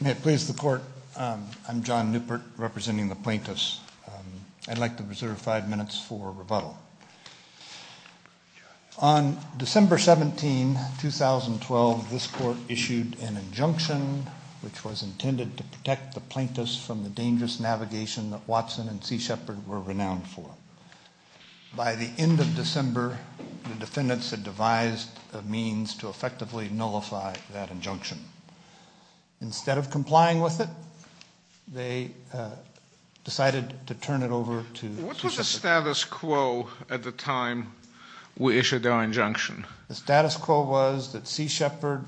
May it please the court, I'm John Newport representing the plaintiffs. I'd like to reserve five minutes for rebuttal. On December 17, 2012, this court issued an injunction which was intended to protect the plaintiffs from the dangerous navigation that Watson and Sea Shepherd were renowned for. By the end of December, the defendants had devised a means to effectively nullify that injunction. Instead of complying with it, they decided to turn it over to Sea Shepherd. What was the status quo at the time we issued our injunction? The status quo was that Sea Shepherd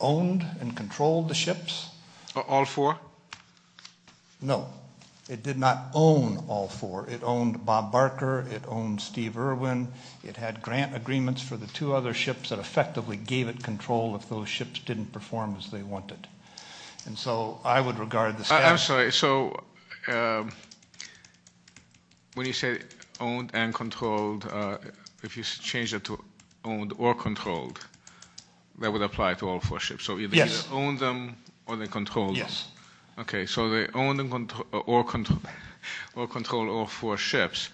owned and controlled the ships. All four? No. It did not own all four. It owned Bob Barker. It owned Steve Irwin. It had grant agreements for the two other ships that effectively gave it control if those ships didn't perform as they wanted. I'm sorry, so when you say owned and controlled, if you change that to owned or controlled, that would apply to all four ships? Yes. Okay, so they owned or controlled all four ships.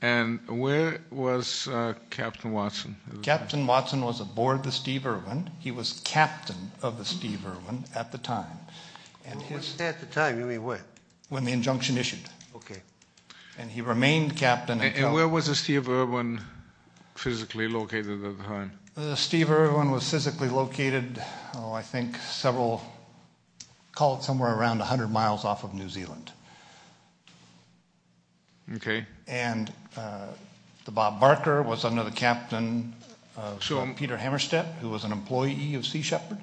Where was Captain Watson? Captain Watson was aboard the Steve Irwin. He was captain of the Steve Irwin at the time. At the time, you mean when? When the injunction issued. Okay. He remained captain. Where was the Steve Irwin physically located at the time? The Steve Irwin was physically located, I think, several, call it somewhere around 100 miles off of New Zealand. Okay. And the Bob Barker was under the captain, Peter Hammerstedt, who was an employee of Sea Shepherd.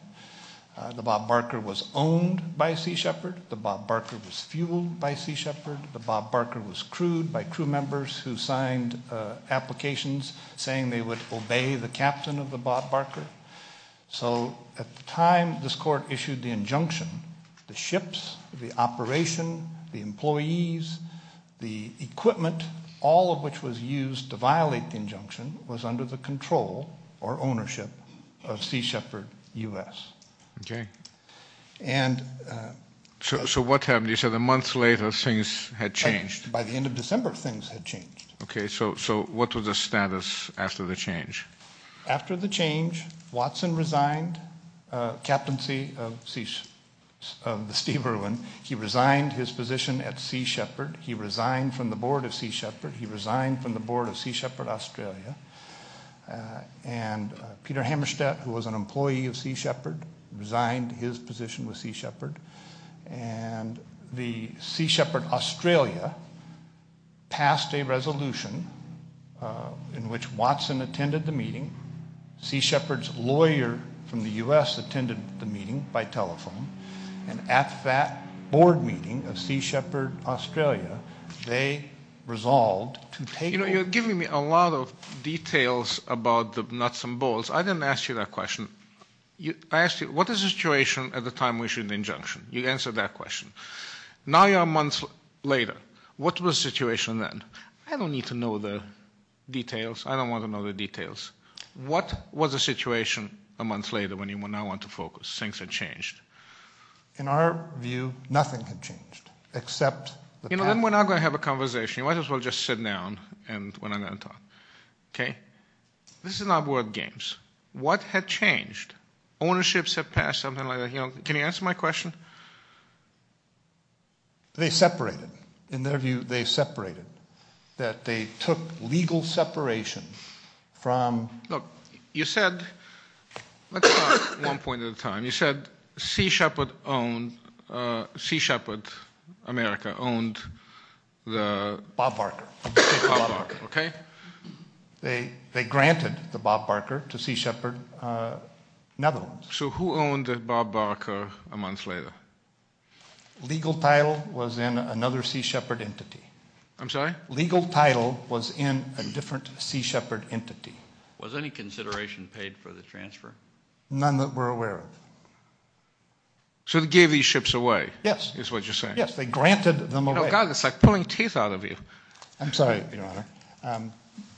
The Bob Barker was owned by Sea Shepherd. The Bob Barker was fueled by Sea Shepherd. The Bob Barker was crewed by crew members who signed applications saying they would obey the captain of the Bob Barker. So at the time this court issued the injunction, the ships, the operation, the employees, the equipment, all of which was used to violate the injunction, was under the control or ownership of Sea Shepherd U.S. Okay. So what happened? You said a month later things had changed. By the end of December things had changed. Okay, so what was the status after the change? After the change, Watson resigned captaincy of the Steve Irwin. He resigned his position at Sea Shepherd. He resigned from the board of Sea Shepherd. He resigned from the board of Sea Shepherd Australia. And Peter Hammerstedt, who was an employee of Sea Shepherd, resigned his position with Sea Shepherd. And the Sea Shepherd Australia passed a resolution in which Watson attended the meeting. Sea Shepherd's lawyer from the U.S. attended the meeting by telephone. And at that board meeting of Sea Shepherd Australia, they resolved to take over. You know, you're giving me a lot of details about the nuts and bolts. I didn't ask you that question. I asked you, what is the situation at the time we issued the injunction? You answered that question. Now you're a month later. What was the situation then? I don't need to know the details. I don't want to know the details. What was the situation a month later when you now went to focus? Things had changed. In our view, nothing had changed except the path. You know, then we're not going to have a conversation. You might as well just sit down when I'm going to talk. Okay? This is not board games. What had changed? Ownerships had passed, something like that. You know, can you answer my question? They separated. In their view, they separated. That they took legal separation from. Look, you said, let's talk one point at a time. You said Sea Shepherd owned, Sea Shepherd America owned the. Bob Barker. Bob Barker, okay. They granted the Bob Barker to Sea Shepherd Netherlands. So who owned Bob Barker a month later? Legal title was in another Sea Shepherd entity. I'm sorry? Legal title was in a different Sea Shepherd entity. Was any consideration paid for the transfer? None that we're aware of. So they gave these ships away. Yes. Is what you're saying. Yes, they granted them away. Oh, God, it's like pulling teeth out of you. I'm sorry, Your Honor.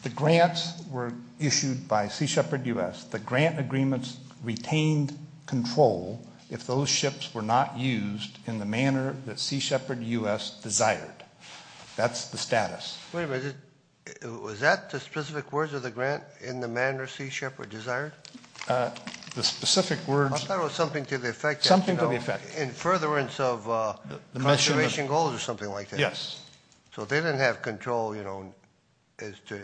The grants were issued by Sea Shepherd U.S. The grant agreements retained control if those ships were not used in the manner that Sea Shepherd U.S. desired. That's the status. Wait a minute. Was that the specific words of the grant in the manner Sea Shepherd desired? The specific words. I thought it was something to the effect. Something to the effect. In furtherance of conservation goals or something like that. Yes. So they didn't have control, you know, as to,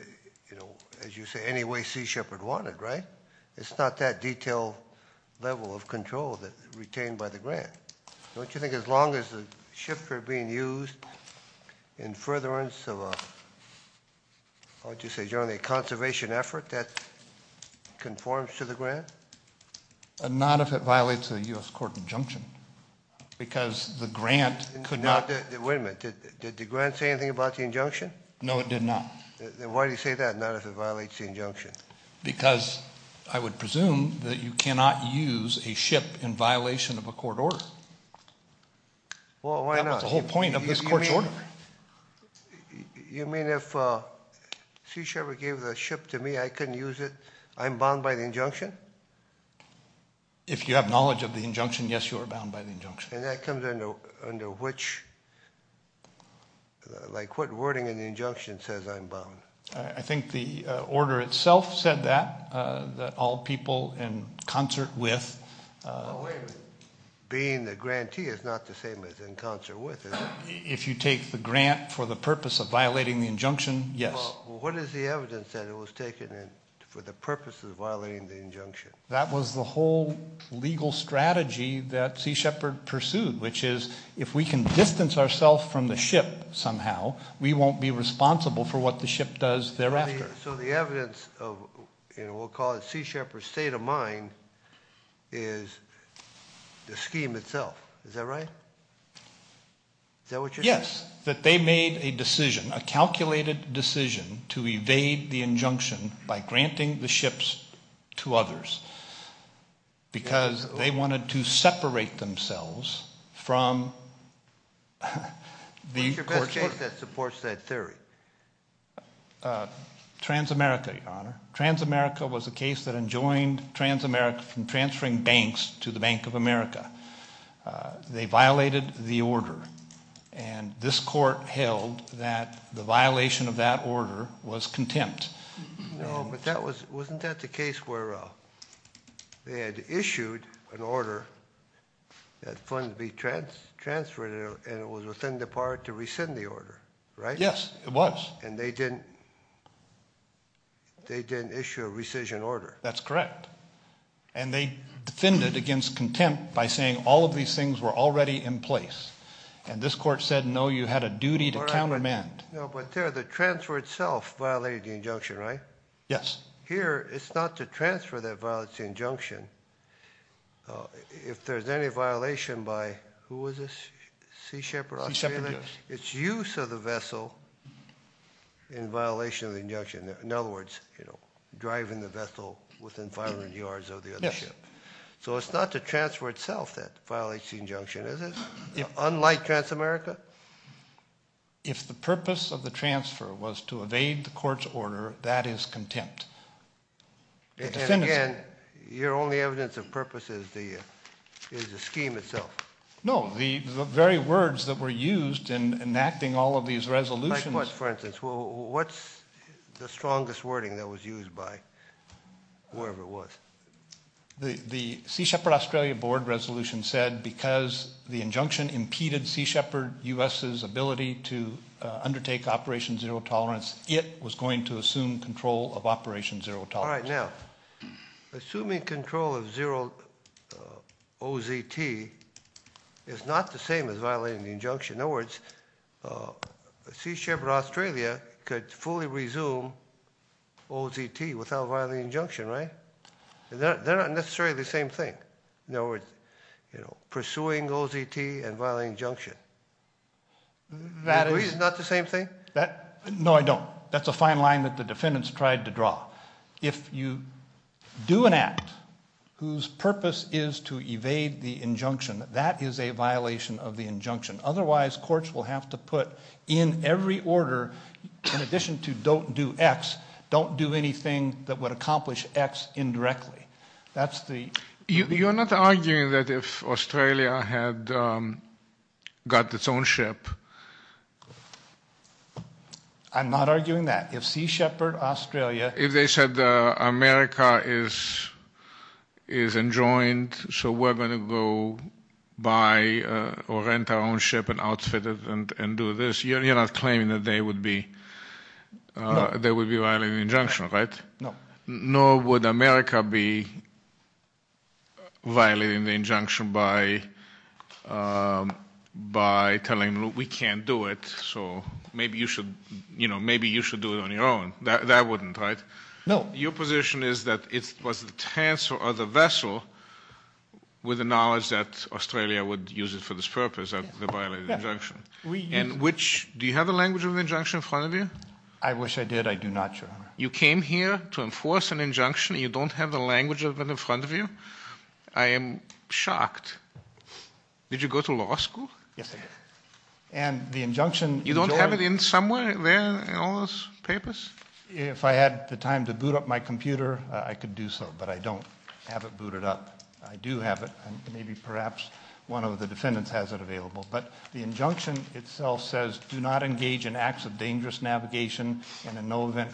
you know, as you say, any way Sea Shepherd wanted, right? It's not that detailed level of control that's retained by the grant. Don't you think as long as the ships are being used in furtherance of a, what would you say, generally a conservation effort that conforms to the grant? Not if it violates a U.S. court injunction because the grant could not. Wait a minute. Did the grant say anything about the injunction? No, it did not. Then why do you say that, not if it violates the injunction? Because I would presume that you cannot use a ship in violation of a court order. Well, why not? That's the whole point of this court's order. You mean if Sea Shepherd gave the ship to me, I couldn't use it? I'm bound by the injunction? If you have knowledge of the injunction, yes, you are bound by the injunction. And that comes under which, like what wording in the injunction says I'm bound? I think the order itself said that, that all people in concert with. Well, wait a minute. Being the grantee is not the same as in concert with, is it? If you take the grant for the purpose of violating the injunction, yes. Well, what is the evidence that it was taken for the purpose of violating the injunction? That was the whole legal strategy that Sea Shepherd pursued, which is if we can distance ourself from the ship somehow, we won't be responsible for what the ship does thereafter. So the evidence of what we'll call Sea Shepherd's state of mind is the scheme itself. Is that right? Is that what you're saying? Yes, that they made a decision, a calculated decision to evade the injunction by granting the ships to others because they wanted to separate themselves from the courts. What's your best case that supports that theory? Transamerica, Your Honor. Transamerica was a case that enjoined Transamerica from transferring banks to the Bank of America. They violated the order. And this court held that the violation of that order was contempt. No, but wasn't that the case where they had issued an order that funds be transferred and it was within the power to rescind the order, right? Yes, it was. And they didn't issue a rescission order. That's correct. And they defended it against contempt by saying all of these things were already in place. And this court said, no, you had a duty to countermand. No, but there, the transfer itself violated the injunction, right? Yes. Here, it's not the transfer that violates the injunction. If there's any violation by, who is this, Sea Shepherd Australia? It's use of the vessel in violation of the injunction. In other words, driving the vessel within 500 yards of the other ship. So it's not the transfer itself that violates the injunction, is it? Unlike Transamerica? If the purpose of the transfer was to evade the court's order, that is contempt. Again, your only evidence of purpose is the scheme itself. No, the very words that were used in enacting all of these resolutions. Like what, for instance? What's the strongest wording that was used by whoever it was? The Sea Shepherd Australia board resolution said because the injunction impeded Sea Shepherd U.S.'s ability to undertake Operation Zero Tolerance, it was going to assume control of Operation Zero Tolerance. All right, now, assuming control of OZT is not the same as violating the injunction. In other words, Sea Shepherd Australia could fully resume OZT without violating the injunction, right? They're not necessarily the same thing. In other words, pursuing OZT and violating the injunction. You agree it's not the same thing? No, I don't. That's a fine line that the defendants tried to draw. If you do an act whose purpose is to evade the injunction, that is a violation of the injunction. Otherwise, courts will have to put in every order, in addition to don't do X, don't do anything that would accomplish X indirectly. You're not arguing that if Australia had got its own ship. I'm not arguing that. If they said America is enjoined, so we're going to go buy or rent our own ship and outfit it and do this, you're not claiming that they would be violating the injunction, right? No. Nor would America be violating the injunction by telling them we can't do it, so maybe you should do it on your own. That wouldn't, right? No. Your position is that it was a chance for the vessel, with the knowledge that Australia would use it for this purpose, that they violated the injunction. Do you have the language of the injunction in front of you? I wish I did. I do not, Your Honor. You came here to enforce an injunction. You don't have the language of it in front of you? I am shocked. Did you go to law school? Yes, I did. And the injunction… You don't have it in somewhere there in all those papers? If I had the time to boot up my computer, I could do so, but I don't have it booted up. I do have it, and maybe perhaps one of the defendants has it available. But the injunction itself says, do not engage in acts of dangerous navigation and in no event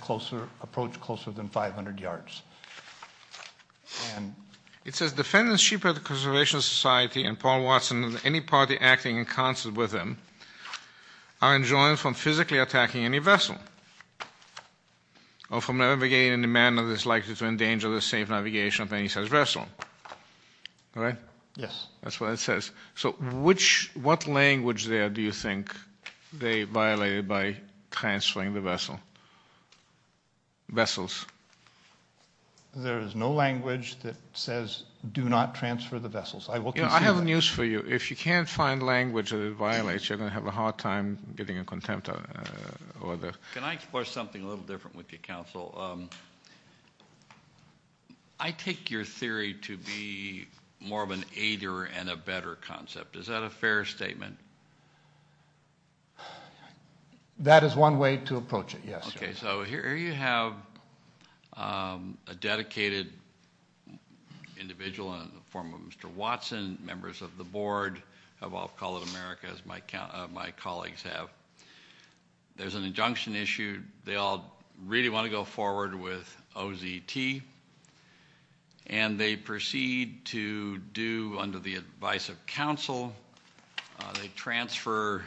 approach closer than 500 yards. It says defendants, sheep of the Conservation Society and Paul Watson and any party acting in concert with him are enjoined from physically attacking any vessel or from navigating in a manner that is likely to endanger the safe navigation of any such vessel. Right? Yes. That's what it says. So what language there do you think they violated by transferring the vessel? Vessels. There is no language that says do not transfer the vessels. I will consider that. I have news for you. If you can't find language that it violates, you're going to have a hard time getting a contempt order. Can I explore something a little different with you, Counsel? I take your theory to be more of an aider and a better concept. Is that a fair statement? That is one way to approach it, yes. Okay. So here you have a dedicated individual in the form of Mr. Watson, members of the board of Off Call of America, as my colleagues have. There's an injunction issue. They all really want to go forward with OZT, and they proceed to do, under the advice of counsel, they transfer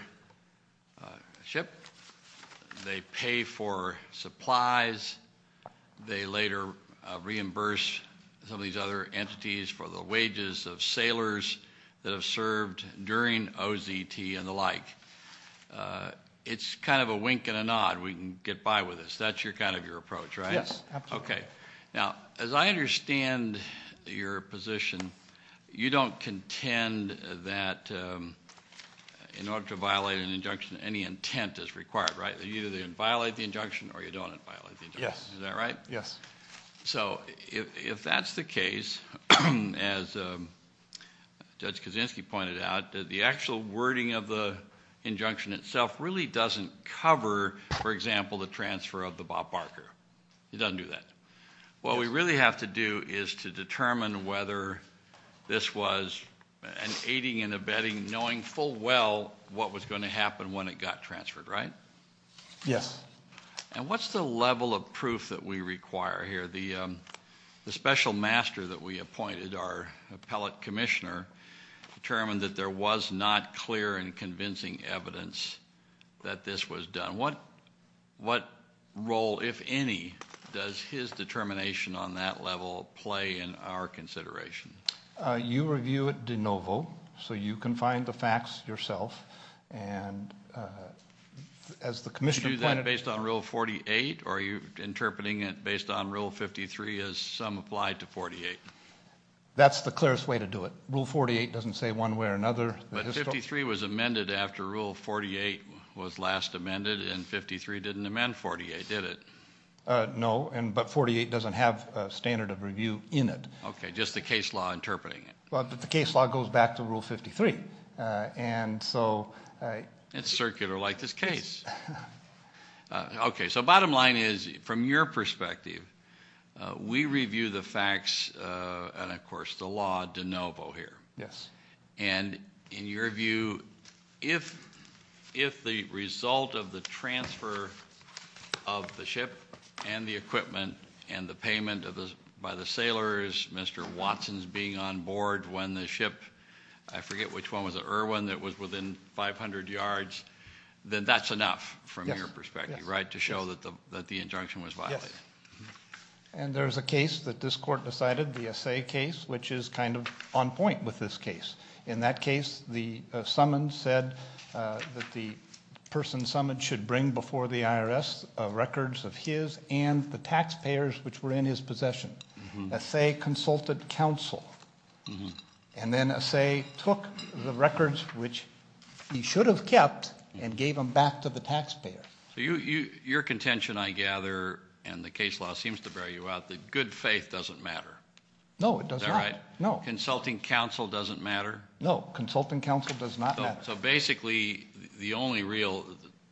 a ship. They pay for supplies. They later reimburse some of these other entities for the wages of sailors that have served during OZT and the like. It's kind of a wink and a nod. We can get by with this. That's kind of your approach, right? Yes, absolutely. Okay. Now, as I understand your position, you don't contend that in order to violate an injunction, any intent is required, right? You either violate the injunction or you don't violate the injunction. Yes. Is that right? Yes. So if that's the case, as Judge Kaczynski pointed out, the actual wording of the injunction itself really doesn't cover, for example, the transfer of the Bob Barker. It doesn't do that. What we really have to do is to determine whether this was an aiding and abetting, knowing full well what was going to happen when it got transferred, right? Yes. And what's the level of proof that we require here? The special master that we appointed, our appellate commissioner, determined that there was not clear and convincing evidence that this was done. What role, if any, does his determination on that level play in our consideration? You review it de novo, so you can find the facts yourself. Did you do that based on Rule 48, or are you interpreting it based on Rule 53 as some applied to 48? That's the clearest way to do it. Rule 48 doesn't say one way or another. But 53 was amended after Rule 48 was last amended, and 53 didn't amend 48, did it? No, but 48 doesn't have a standard of review in it. Okay, just the case law interpreting it. The case law goes back to Rule 53. It's circular like this case. Okay, so bottom line is, from your perspective, we review the facts and, of course, the law de novo here. Yes. And in your view, if the result of the transfer of the ship and the equipment and the payment by the sailors, Mr. Watson's being on board when the ship, I forget which one was it, Irwin, that was within 500 yards, then that's enough from your perspective, right, to show that the injunction was violated? Yes. And there's a case that this court decided, the Assay case, which is kind of on point with this case. In that case, the summons said that the person summoned should bring before the IRS records of his and the taxpayers which were in his possession. Assay consulted counsel, and then Assay took the records which he should have kept and gave them back to the taxpayers. So your contention, I gather, and the case law seems to bear you out, that good faith doesn't matter. No, it does not. Is that right? No. Consulting counsel doesn't matter? No. Consulting counsel does not matter. So basically, the only real,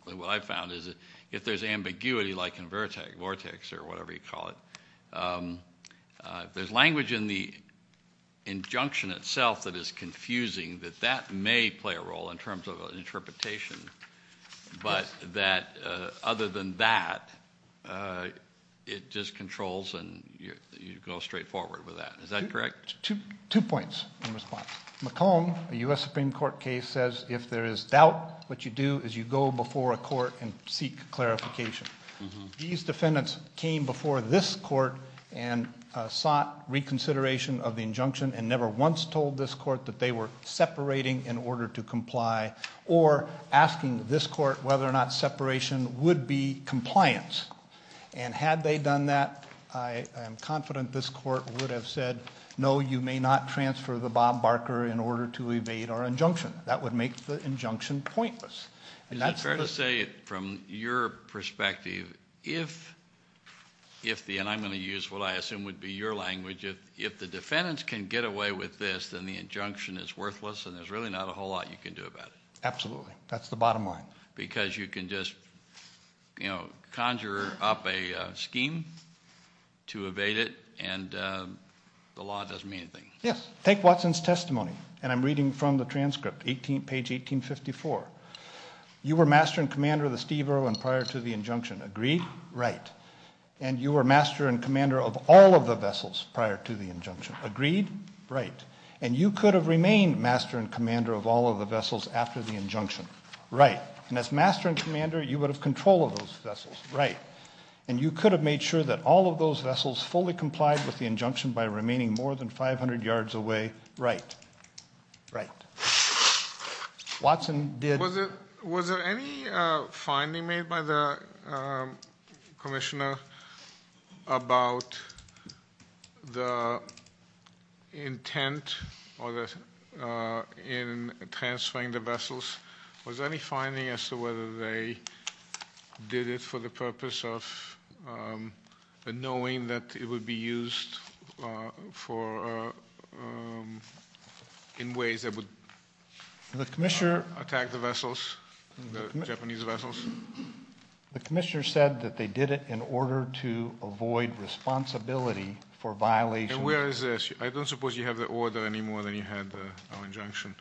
what I've found is that if there's ambiguity, like in Vortex or whatever you call it, if there's language in the injunction itself that is confusing, that that may play a role in terms of an interpretation. But that other than that, it just controls and you go straight forward with that. Is that correct? Two points in response. McComb, a U.S. Supreme Court case, says if there is doubt, what you do is you go before a court and seek clarification. These defendants came before this court and sought reconsideration of the injunction and never once told this court that they were separating in order to comply or asking this court whether or not separation would be compliance. And had they done that, I am confident this court would have said, no, you may not transfer the Bob Barker in order to evade our injunction. That would make the injunction pointless. Is it fair to say from your perspective, if the, and I'm going to use what I assume would be your language, if the defendants can get away with this, then the injunction is worthless and there's really not a whole lot you can do about it? Absolutely. That's the bottom line. Because you can just conjure up a scheme to evade it and the law doesn't mean anything. Yes. Take Watson's testimony, and I'm reading from the transcript, page 1854. You were master and commander of the Steve Irwin prior to the injunction. Agreed? Right. And you were master and commander of all of the vessels prior to the injunction. Agreed? Right. And you could have remained master and commander of all of the vessels after the injunction. Right. And as master and commander, you would have control of those vessels. Right. And you could have made sure that all of those vessels fully complied with the injunction by remaining more than 500 yards away. Right. Right. Watson did. Was there any finding made by the commissioner about the intent in transferring the vessels? Was there any finding as to whether they did it for the purpose of knowing that it would be used in ways that would attack the vessels, the Japanese vessels? The commissioner said that they did it in order to avoid responsibility for violations. And where is this? I don't suppose you have the order anymore than you had our injunction.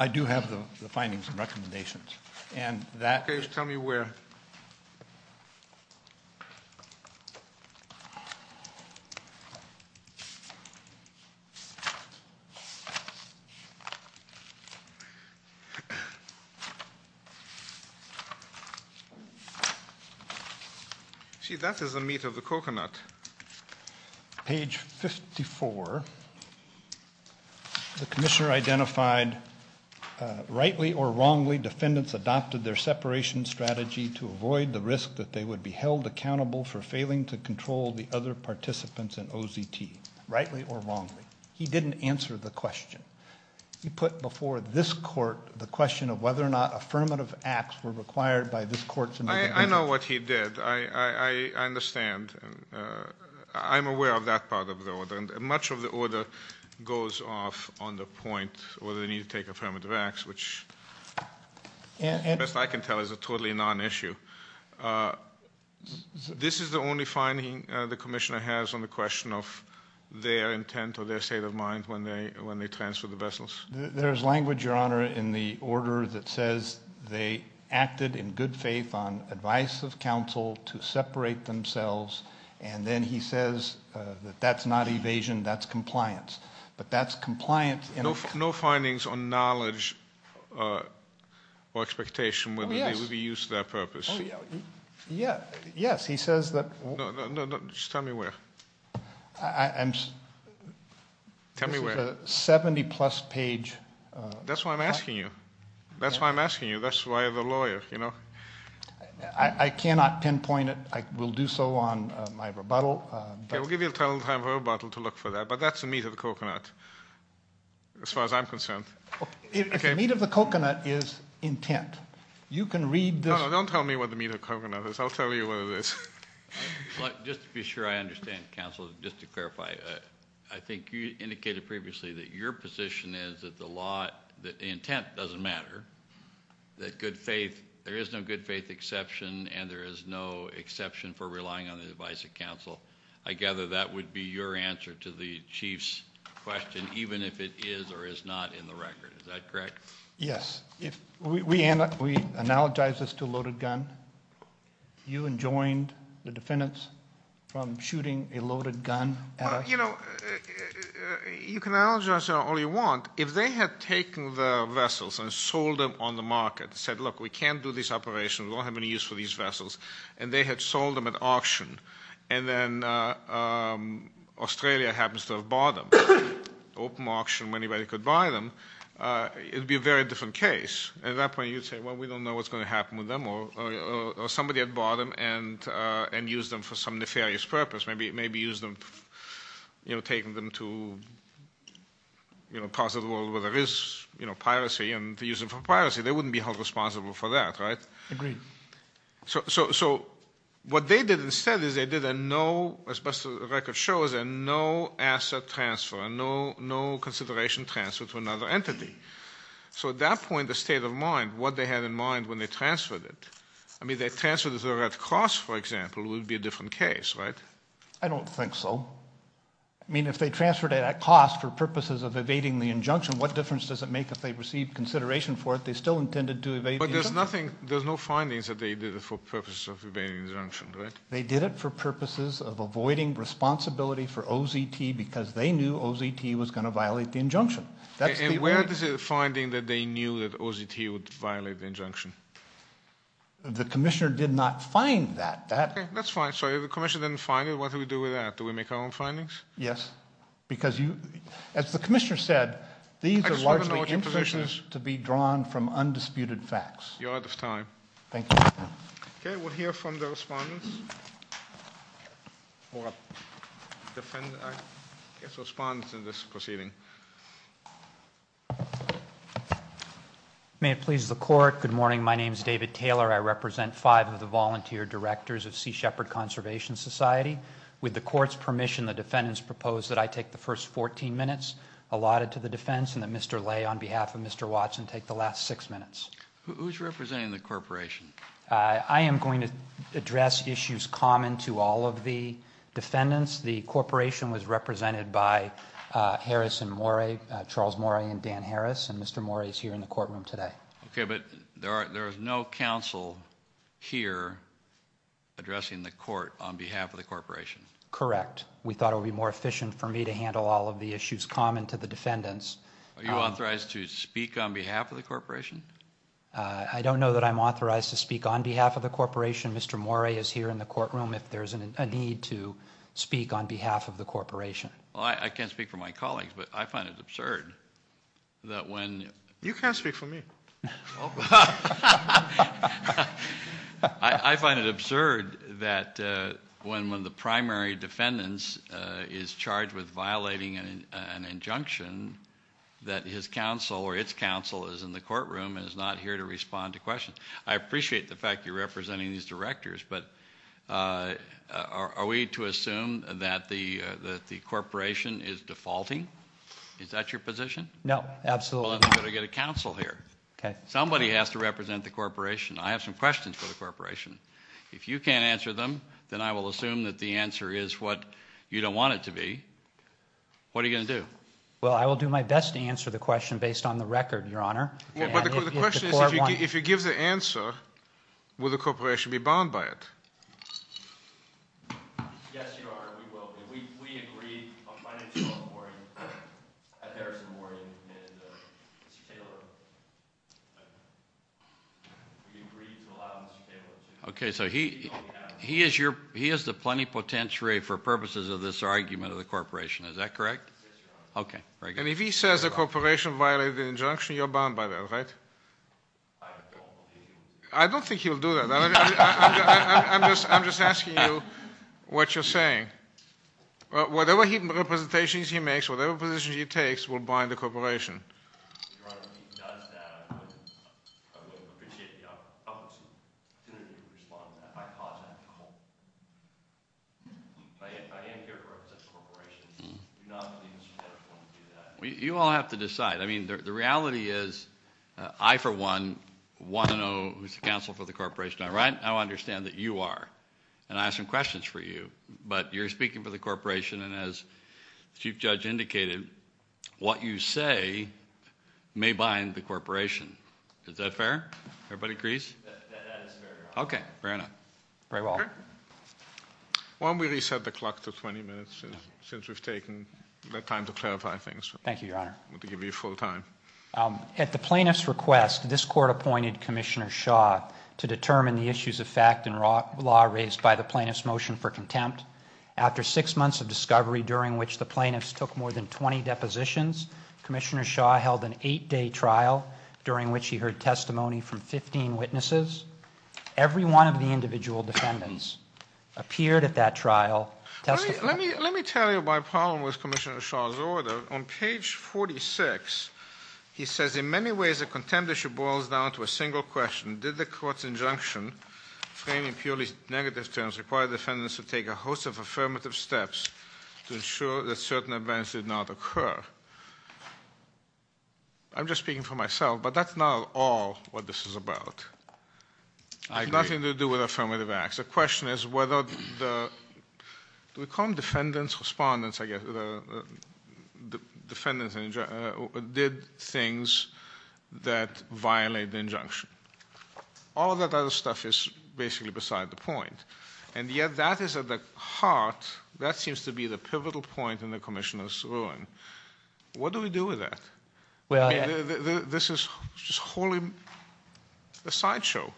I do have the findings and recommendations. Okay. Tell me where. Page 54. The commissioner identified rightly or wrongly defendants adopted their separation strategy to avoid the risk that they would be held accountable for failing to control the other participants in OZT. Rightly or wrongly. He didn't answer the question. He put before this court the question of whether or not affirmative acts were required by this court. I know what he did. I understand. I'm aware of that part of the order. Much of the order goes off on the point whether they need to take affirmative acts, which best I can tell is a totally non-issue. This is the only finding the commissioner has on the question of their intent or their state of mind when they transferred the vessels. There is language, Your Honor, in the order that says they acted in good faith on advice of counsel to separate themselves. And then he says that that's not evasion, that's compliance. But that's compliance. No findings on knowledge or expectation whether they would be used to that purpose. Yes, he says that. Just tell me where. Tell me where. The 70-plus page. That's why I'm asking you. That's why I'm asking you. That's why the lawyer, you know. I cannot pinpoint it. I will do so on my rebuttal. Okay, we'll give you a little time for rebuttal to look for that. But that's the meat of the coconut as far as I'm concerned. The meat of the coconut is intent. You can read this. No, no, don't tell me what the meat of the coconut is. I'll tell you what it is. Just to be sure I understand, counsel, just to clarify, I think you indicated previously that your position is that the intent doesn't matter, that there is no good faith exception and there is no exception for relying on the advice of counsel. I gather that would be your answer to the chief's question, even if it is or is not in the record. Is that correct? Yes. We analogize this to a loaded gun. You enjoined the defendants from shooting a loaded gun at us. You know, you can analogize it all you want. If they had taken the vessels and sold them on the market and said, look, we can't do these operations, we don't have any use for these vessels, and they had sold them at auction and then Australia happens to have bought them, open auction when anybody could buy them, it would be a very different case. At that point you'd say, well, we don't know what's going to happen with them, or somebody had bought them and used them for some nefarious purpose, maybe used them, you know, taken them to parts of the world where there is, you know, piracy and used them for piracy. They wouldn't be held responsible for that, right? Agreed. So what they did instead is they did a no, as best the record shows, a no asset transfer, a no consideration transfer to another entity. So at that point, the state of mind, what they had in mind when they transferred it, I mean, if they transferred it at cost, for example, it would be a different case, right? I don't think so. I mean, if they transferred it at cost for purposes of evading the injunction, what difference does it make if they received consideration for it, they still intended to evade the injunction. But there's nothing, there's no findings that they did it for purposes of evading the injunction, right? They did it for purposes of avoiding responsibility for OZT because they knew OZT was going to violate the injunction. And where is the finding that they knew that OZT would violate the injunction? The commissioner did not find that. That's fine. So if the commissioner didn't find it, what do we do with that? Do we make our own findings? Yes, because as the commissioner said, these are largely institutions to be drawn from undisputed facts. You're out of time. Thank you. Okay, we'll hear from the respondents. I guess the respondent in this proceeding. May it please the court, good morning. My name is David Taylor. I represent five of the volunteer directors of Sea Shepherd Conservation Society. With the court's permission, the defendants propose that I take the first 14 minutes allotted to the defense and that Mr. Lay on behalf of Mr. Watson take the last six minutes. Who's representing the corporation? I am going to address issues common to all of the defendants. The corporation was represented by Harris and Morey, Charles Morey and Dan Harris, and Mr. Morey is here in the courtroom today. Okay, but there is no counsel here addressing the court on behalf of the corporation. Correct. We thought it would be more efficient for me to handle all of the issues common to the defendants. Are you authorized to speak on behalf of the corporation? I don't know that I'm authorized to speak on behalf of the corporation. Mr. Morey is here in the courtroom if there's a need to speak on behalf of the corporation. Well, I can't speak for my colleagues, but I find it absurd that when- You can't speak for me. I find it absurd that when one of the primary defendants is charged with violating an injunction, that his counsel or its counsel is in the courtroom and is not here to respond to questions. I appreciate the fact you're representing these directors, but are we to assume that the corporation is defaulting? Is that your position? No, absolutely not. Somebody has to represent the corporation. I have some questions for the corporation. If you can't answer them, then I will assume that the answer is what you don't want it to be. What are you going to do? Well, I will do my best to answer the question based on the record, Your Honor. The question is if you give the answer, will the corporation be bound by it? Yes, Your Honor, we will. We agreed on financial reporting at Harrison Memorial, and Mr. Taylor, we agreed to allow Mr. Taylor to- Okay, so he is the plenipotentiary for purposes of this argument of the corporation. Is that correct? Yes, Your Honor. Okay, very good. And if he says the corporation violated an injunction, you're bound by that, right? I don't believe he would do that. I don't think he would do that. I'm just asking you what you're saying. Whatever representations he makes, whatever position he takes, will bind the corporation. Your Honor, if he does that, I would appreciate the opportunity to respond to that. I am here to represent the corporation. I do not believe Mr. Taylor would do that. You all have to decide. I mean, the reality is I, for one, want to know who's the counsel for the corporation. I understand that you are, and I have some questions for you, but you're speaking for the corporation, and as the Chief Judge indicated, what you say may bind the corporation. Is that fair? Everybody agrees? That is fair, Your Honor. Okay, fair enough. Very well. Okay. Why don't we reset the clock to 20 minutes since we've taken the time to clarify things. Thank you, Your Honor. I'm going to give you full time. At the plaintiff's request, this court appointed Commissioner Shaw to determine the issues of fact and law raised by the plaintiff's motion for contempt. After six months of discovery, during which the plaintiffs took more than 20 depositions, Commissioner Shaw held an eight-day trial, during which he heard testimony from 15 witnesses. Every one of the individual defendants appeared at that trial testifying. Let me tell you my problem with Commissioner Shaw's order. On page 46, he says, In many ways the contempt issue boils down to a single question. Did the court's injunction, framing purely negative terms, require defendants to take a host of affirmative steps to ensure that certain events did not occur? I'm just speaking for myself, but that's not at all what this is about. I agree. Nothing to do with affirmative acts. The question is whether the defendants did things that violated the injunction. All of that other stuff is basically beside the point, and yet that is at the heart, that seems to be the pivotal point in the Commissioner's ruling. What do we do with that? This is wholly a sideshow.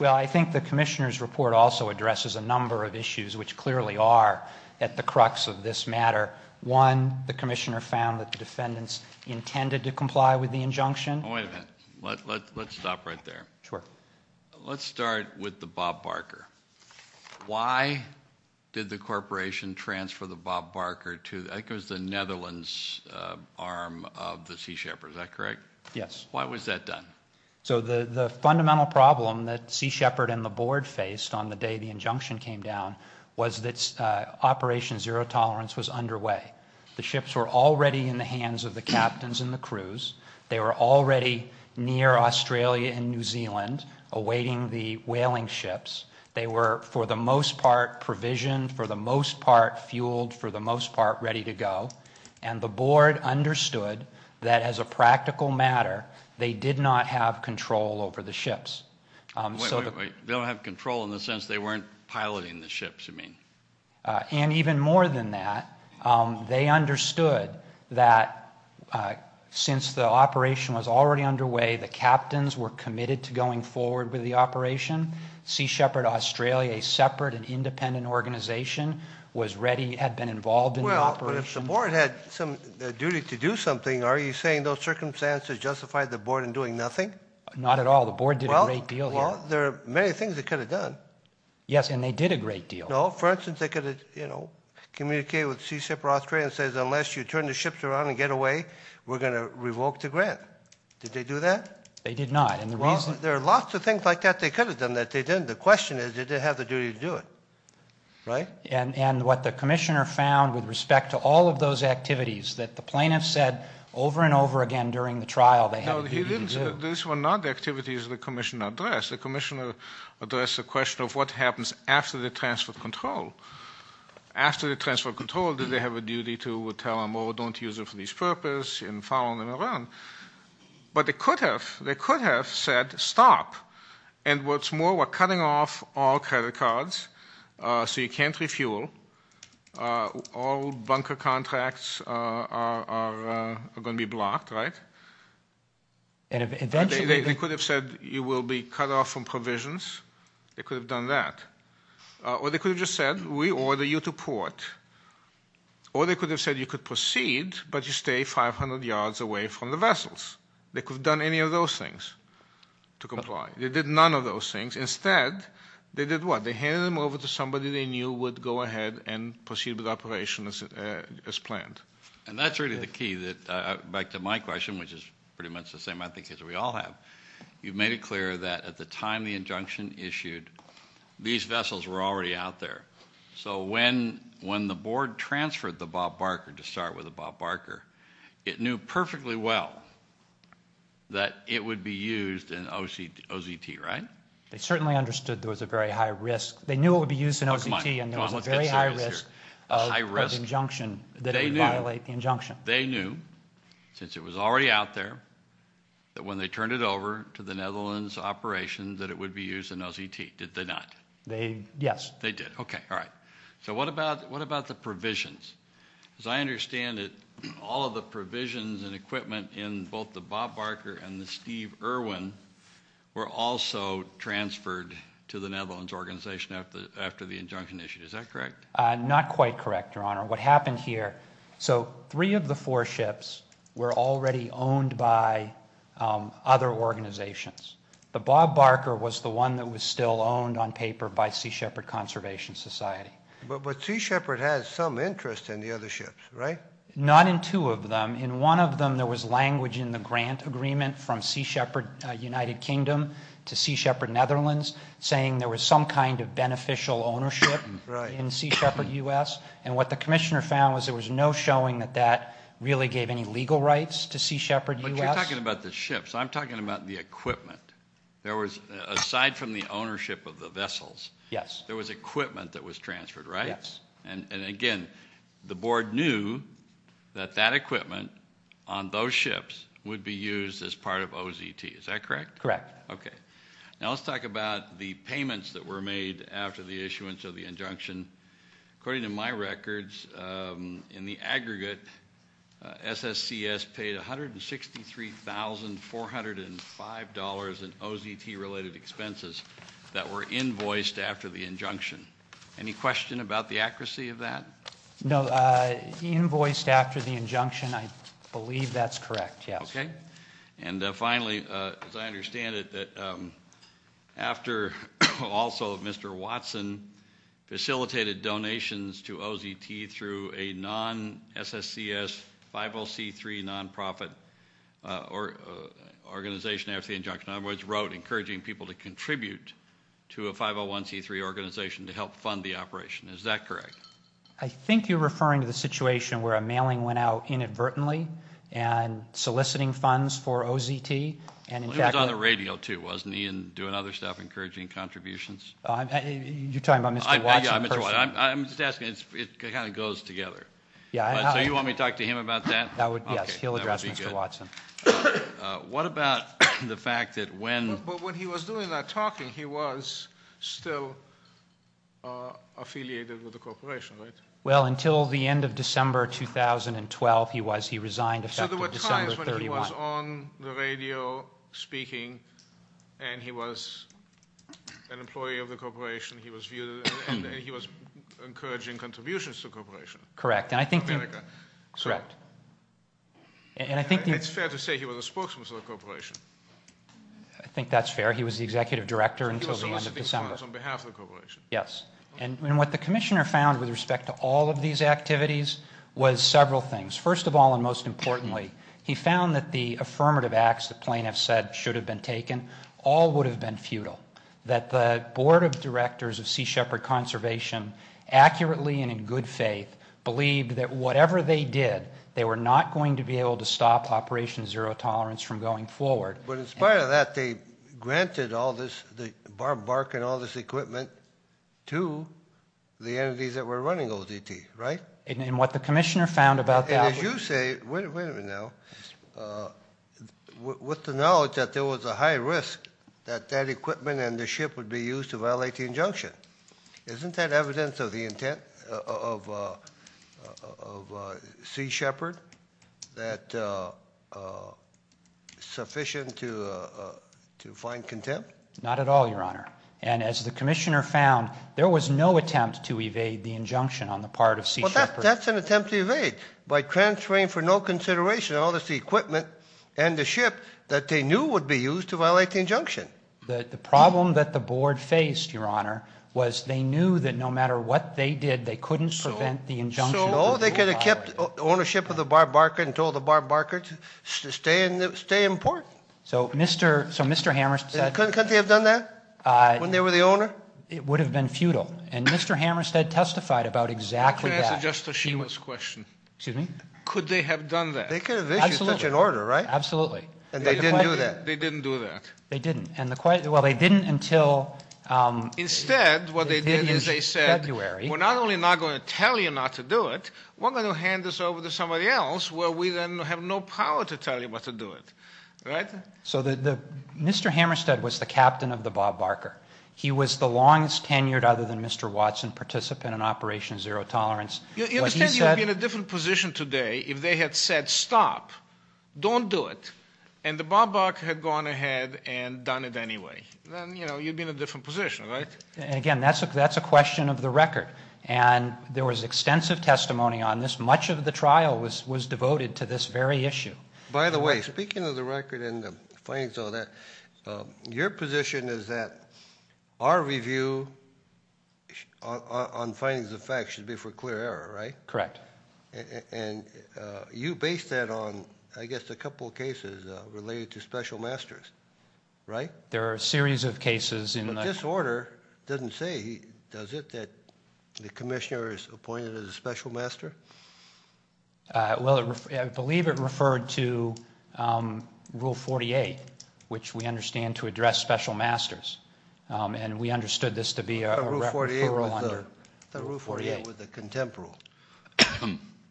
Well, I think the Commissioner's report also addresses a number of issues, which clearly are at the crux of this matter. One, the Commissioner found that the defendants intended to comply with the injunction. Wait a minute. Let's stop right there. Sure. Let's start with the Bob Barker. Why did the corporation transfer the Bob Barker to, I think it was the Netherlands arm of the Sea Shepherd, is that correct? Yes. Why was that done? The fundamental problem that Sea Shepherd and the board faced on the day the injunction came down was that Operation Zero Tolerance was underway. The ships were already in the hands of the captains and the crews. They were already near Australia and New Zealand awaiting the whaling ships. They were, for the most part, provisioned, for the most part, fueled, for the most part, ready to go. And the board understood that, as a practical matter, they did not have control over the ships. Wait, wait, wait. They don't have control in the sense they weren't piloting the ships, you mean? And even more than that, they understood that since the operation was already underway, the captains were committed to going forward with the operation. Sea Shepherd Australia, a separate and independent organization, was ready, had been involved in the operation. But if the board had some duty to do something, are you saying those circumstances justified the board in doing nothing? Not at all. The board did a great deal. Well, there are many things they could have done. Yes, and they did a great deal. No. For instance, they could have communicated with Sea Shepherd Australia and said, unless you turn the ships around and get away, we're going to revoke the grant. Did they do that? They did not. Well, there are lots of things like that they could have done that they didn't. The question is, did they have the duty to do it, right? And what the commissioner found with respect to all of those activities that the plaintiffs said over and over again during the trial, they had the duty to do. No, this was not the activities the commissioner addressed. The commissioner addressed the question of what happens after the transfer of control. After the transfer of control, did they have a duty to tell them, oh, don't use it for this purpose and follow them around? But they could have. They could have said, stop. And what's more, we're cutting off all credit cards, so you can't refuel. All bunker contracts are going to be blocked, right? They could have said you will be cut off from provisions. They could have done that. Or they could have just said, we order you to port. Or they could have said you could proceed, but you stay 500 yards away from the vessels. They could have done any of those things to comply. They did none of those things. Instead, they did what? They handed them over to somebody they knew would go ahead and proceed with the operation as planned. And that's really the key. Back to my question, which is pretty much the same, I think, as we all have. You made it clear that at the time the injunction issued, these vessels were already out there. So when the board transferred the Bob Barker, to start with the Bob Barker, it knew perfectly well that it would be used in OZT, right? They certainly understood there was a very high risk. They knew it would be used in OZT, and there was a very high risk of injunction that it would violate the injunction. They knew, since it was already out there, that when they turned it over to the Netherlands operation that it would be used in OZT. Did they not? Yes. They did. Okay, all right. So what about the provisions? As I understand it, all of the provisions and equipment in both the Bob Barker and the Steve Irwin were also transferred to the Netherlands organization after the injunction issued. Is that correct? Not quite correct, Your Honor. What happened here, so three of the four ships were already owned by other organizations. The Bob Barker was the one that was still owned on paper by Sea Shepherd Conservation Society. But Sea Shepherd has some interest in the other ships, right? Not in two of them. In one of them, there was language in the grant agreement from Sea Shepherd United Kingdom to Sea Shepherd Netherlands saying there was some kind of beneficial ownership in Sea Shepherd U.S., and what the commissioner found was there was no showing that that really gave any legal rights to Sea Shepherd U.S. But you're talking about the ships. I'm talking about the equipment. There was, aside from the ownership of the vessels, there was equipment that was transferred, right? Yes. And, again, the board knew that that equipment on those ships would be used as part of OZT. Is that correct? Correct. Okay. Now let's talk about the payments that were made after the issuance of the injunction. According to my records, in the aggregate, SSCS paid $163,405 in OZT-related expenses that were invoiced after the injunction. Any question about the accuracy of that? No. Invoiced after the injunction, I believe that's correct, yes. Okay. And, finally, as I understand it, that after also Mr. Watson facilitated donations to OZT through a non-SSCS 50C3 nonprofit organization after the injunction, in other words, wrote encouraging people to contribute to a 501C3 organization to help fund the operation. Is that correct? I think you're referring to the situation where a mailing went out inadvertently and soliciting funds for OZT. It was on the radio, too, wasn't he, and doing other stuff, encouraging contributions? You're talking about Mr. Watson personally? I'm just asking. It kind of goes together. So you want me to talk to him about that? Yes, he'll address Mr. Watson. What about the fact that when— Well, until the end of December 2012, he resigned effective December 31. So there were times when he was on the radio speaking, and he was an employee of the corporation, and he was encouraging contributions to the corporation? Correct, and I think— America. Correct. It's fair to say he was a spokesman for the corporation. I think that's fair. He was the executive director until the end of December. He was soliciting funds on behalf of the corporation. Yes. And what the commissioner found with respect to all of these activities was several things. First of all, and most importantly, he found that the affirmative acts the plaintiffs said should have been taken all would have been futile, that the board of directors of Sea Shepherd Conservation accurately and in good faith believed that whatever they did, they were not going to be able to stop Operation Zero Tolerance from going forward. But in spite of that, they granted all this, barking all this equipment to the entities that were running ODT, right? And what the commissioner found about that was— And as you say—wait a minute now. With the knowledge that there was a high risk that that equipment and the ship would be used to violate the injunction, isn't that evidence of the intent of Sea Shepherd that sufficient to find contempt? Not at all, Your Honor. And as the commissioner found, there was no attempt to evade the injunction on the part of Sea Shepherd. Well, that's an attempt to evade by transferring for no consideration all this equipment and the ship that they knew would be used to violate the injunction. The problem that the board faced, Your Honor, was they knew that no matter what they did, they couldn't prevent the injunction. So they could have kept ownership of the barbarker and told the barbarker to stay in port. So Mr. Hammerstead— Couldn't they have done that when they were the owner? It would have been futile. And Mr. Hammerstead testified about exactly that. Can I answer Justice Sheehan's question? Excuse me? Could they have done that? They could have issued such an order, right? Absolutely. And they didn't do that? They didn't do that. They didn't. Well, they didn't until— Instead, what they did is they said, we're not only not going to tell you not to do it, we're going to hand this over to somebody else where we then have no power to tell you what to do it. Right? So Mr. Hammerstead was the captain of the barbarker. He was the longest tenured, other than Mr. Watson, participant in Operation Zero Tolerance. You understand you would be in a different position today if they had said, stop, don't do it. And the barbarker had gone ahead and done it anyway. Then, you know, you'd be in a different position, right? Again, that's a question of the record. And there was extensive testimony on this. Much of the trial was devoted to this very issue. By the way, speaking of the record and the findings of that, your position is that our review on findings of facts should be for clear error, right? Correct. And you based that on, I guess, a couple of cases related to special masters, right? There are a series of cases. But this order doesn't say, does it, that the commissioner is appointed as a special master? Well, I believe it referred to Rule 48, which we understand to address special masters. And we understood this to be a referral under. I thought Rule 48 was the contempt rule.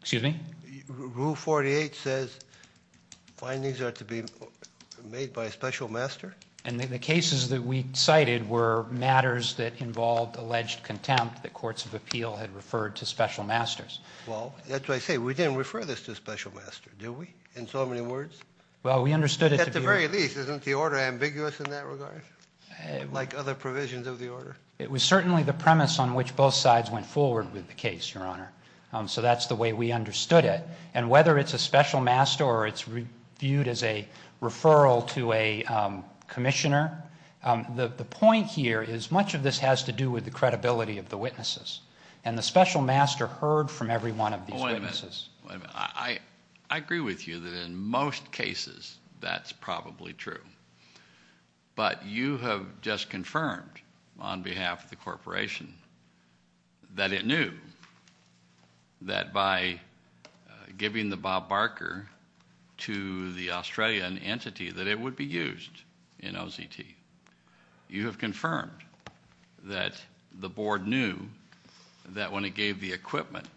Excuse me? Rule 48 says findings are to be made by a special master. And the cases that we cited were matters that involved alleged contempt that courts of appeal had referred to special masters. Well, that's what I say. We didn't refer this to a special master, did we, in so many words? Well, we understood it to be. At the very least, isn't the order ambiguous in that regard, like other provisions of the order? It was certainly the premise on which both sides went forward with the case, Your Honor. So that's the way we understood it. And whether it's a special master or it's viewed as a referral to a commissioner, the point here is much of this has to do with the credibility of the witnesses. And the special master heard from every one of these witnesses. Wait a minute. I agree with you that in most cases that's probably true. But you have just confirmed on behalf of the corporation that it knew that by giving the Bob Barker to the Australian entity that it would be used in OZT. You have confirmed that the board knew that when it gave the equipment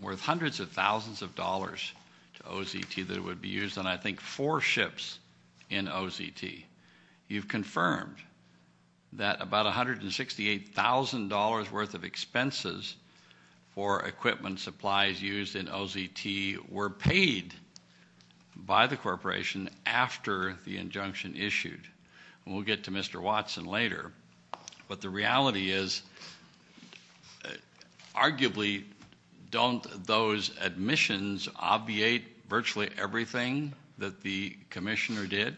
worth hundreds of thousands of dollars to OZT that it would be used on, I think, four ships in OZT. You've confirmed that about $168,000 worth of expenses for equipment supplies used in OZT were paid by the corporation after the injunction issued. And we'll get to Mr. Watson later. But the reality is arguably don't those admissions obviate virtually everything that the commissioner did?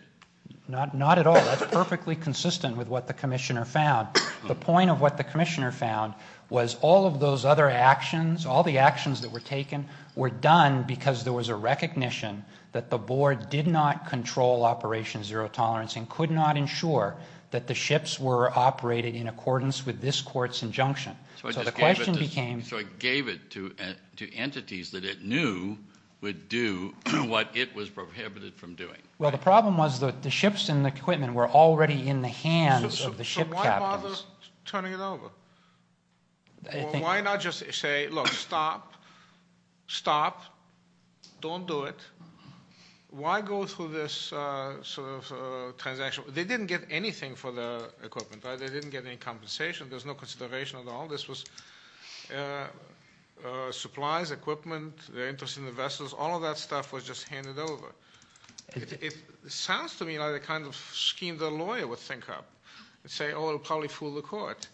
Not at all. That's perfectly consistent with what the commissioner found. The point of what the commissioner found was all of those other actions, all the actions that were taken were done because there was a recognition that the board did not control Operation Zero Tolerance and could not ensure that the ships were operated in accordance with this court's injunction. So the question became. So it gave it to entities that it knew would do what it was prohibited from doing. Well, the problem was that the ships and the equipment were already in the hands of the ship captains. So why bother turning it over? Why not just say, look, stop, stop, don't do it. Why go through this sort of transaction? They didn't get anything for the equipment. They didn't get any compensation. There's no consideration at all. This was supplies, equipment, the interest in the vessels. All of that stuff was just handed over. It sounds to me like the kind of scheme the lawyer would think up and say, oh, it will probably fool the court.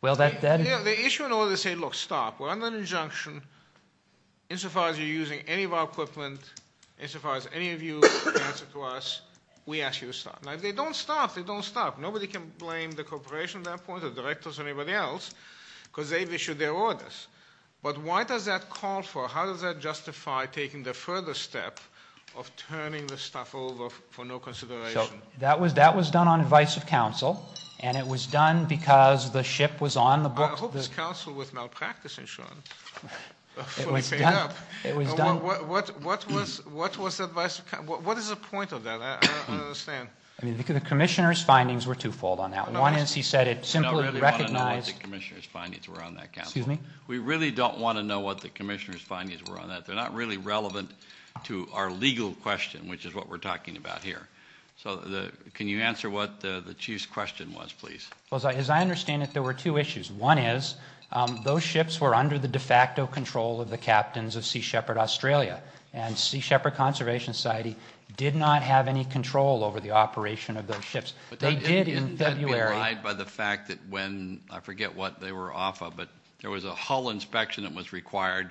Well, that then. The issue in order to say, look, stop. We're under an injunction. Insofar as you're using any of our equipment, insofar as any of you answer to us, we ask you to stop. Now, if they don't stop, they don't stop. Nobody can blame the corporation at that point or directors or anybody else because they've issued their orders. But why does that call for, how does that justify taking the further step of turning this stuff over for no consideration? So that was done on advice of counsel, and it was done because the ship was on the books. I hope this counsel was malpractice insurance fully paid up. It was done. What is the point of that? I don't understand. I mean, the commissioner's findings were twofold on that. One is he said it simply recognized- We don't really want to know what the commissioner's findings were on that, counsel. Excuse me? We really don't want to know what the commissioner's findings were on that. They're not really relevant to our legal question, which is what we're talking about here. So can you answer what the chief's question was, please? Well, as I understand it, there were two issues. One is those ships were under the de facto control of the captains of Sea Shepherd Australia, and Sea Shepherd Conservation Society did not have any control over the operation of those ships. They did in February- But didn't that be relied by the fact that when, I forget what they were off of, but there was a hull inspection that was required,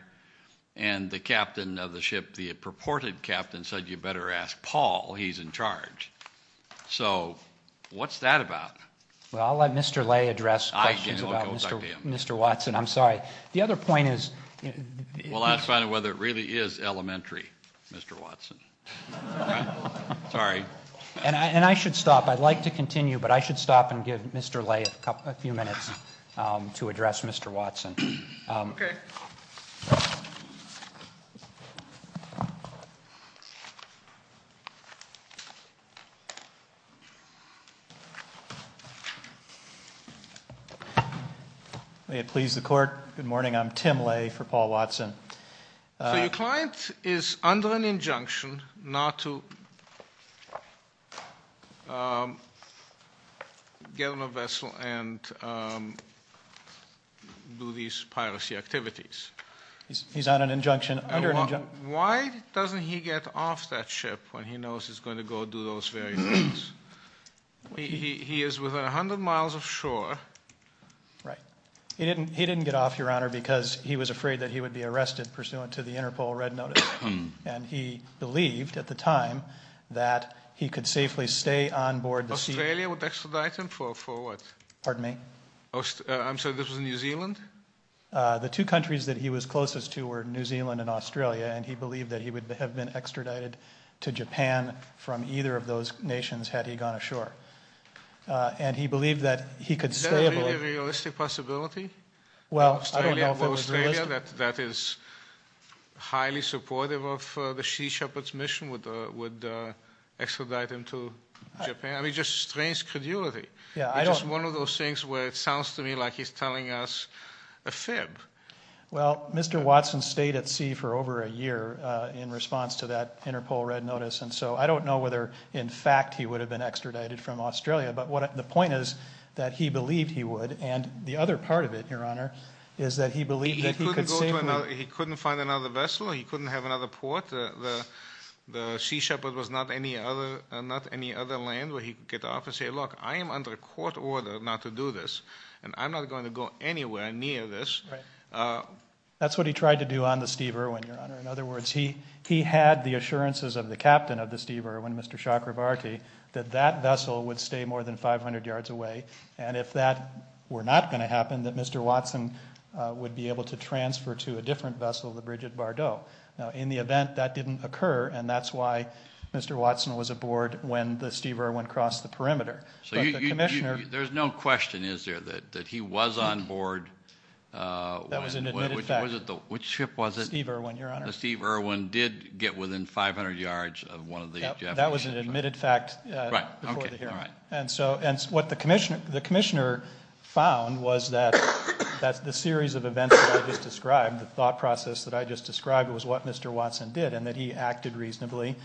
and the captain of the ship, the purported captain said you better ask Paul, he's in charge. So what's that about? Well, I'll let Mr. Lay address questions about Mr. Watson. I'm sorry. The other point is- We'll have to find out whether it really is elementary, Mr. Watson. Sorry. And I should stop. I'd like to continue, but I should stop and give Mr. Lay a few minutes to address Mr. Watson. Okay. May it please the court. Good morning. I'm Tim Lay for Paul Watson. So your client is under an injunction not to get on a vessel and do these piracy activities. He's on an injunction, under an injunction. Why doesn't he get off that ship when he knows he's going to go do those various things? He is within 100 miles of shore. Right. He didn't get off, Your Honor, because he was afraid that he would be arrested pursuant to the Interpol red notice, and he believed at the time that he could safely stay on board the sea- Australia would extradite him for what? Pardon me? I'm sorry, this was New Zealand? The two countries that he was closest to were New Zealand and Australia, and he believed that he would have been extradited to Japan from either of those nations had he gone ashore. And he believed that he could stay aboard. Is that a realistic possibility? Well, I don't know if it was realistic. Australia, that is highly supportive of the Sea Shepherd's mission, would extradite him to Japan? I mean, just strange credulity. Yeah, I don't- It's just one of those things where it sounds to me like he's telling us a fib. Well, Mr. Watson stayed at sea for over a year in response to that Interpol red notice, and so I don't know whether in fact he would have been extradited from Australia, but the point is that he believed he would, and the other part of it, Your Honor, is that he believed that he could safely- He couldn't find another vessel, he couldn't have another port. The Sea Shepherd was not any other land where he could get off and say, That's what he tried to do on the Steve Irwin, Your Honor. In other words, he had the assurances of the captain of the Steve Irwin, Mr. Chakravarty, that that vessel would stay more than 500 yards away, and if that were not going to happen, that Mr. Watson would be able to transfer to a different vessel, the bridge at Bardot. Now, in the event, that didn't occur, and that's why Mr. Watson was aboard when the Steve Irwin crossed the perimeter. There's no question, is there, that he was on board? That was an admitted fact. Which ship was it? The Steve Irwin, Your Honor. The Steve Irwin did get within 500 yards of one of the- That was an admitted fact before the hearing, and so what the commissioner found was that the series of events that I just described, the thought process that I just described was what Mr. Watson did, and that he acted reasonably,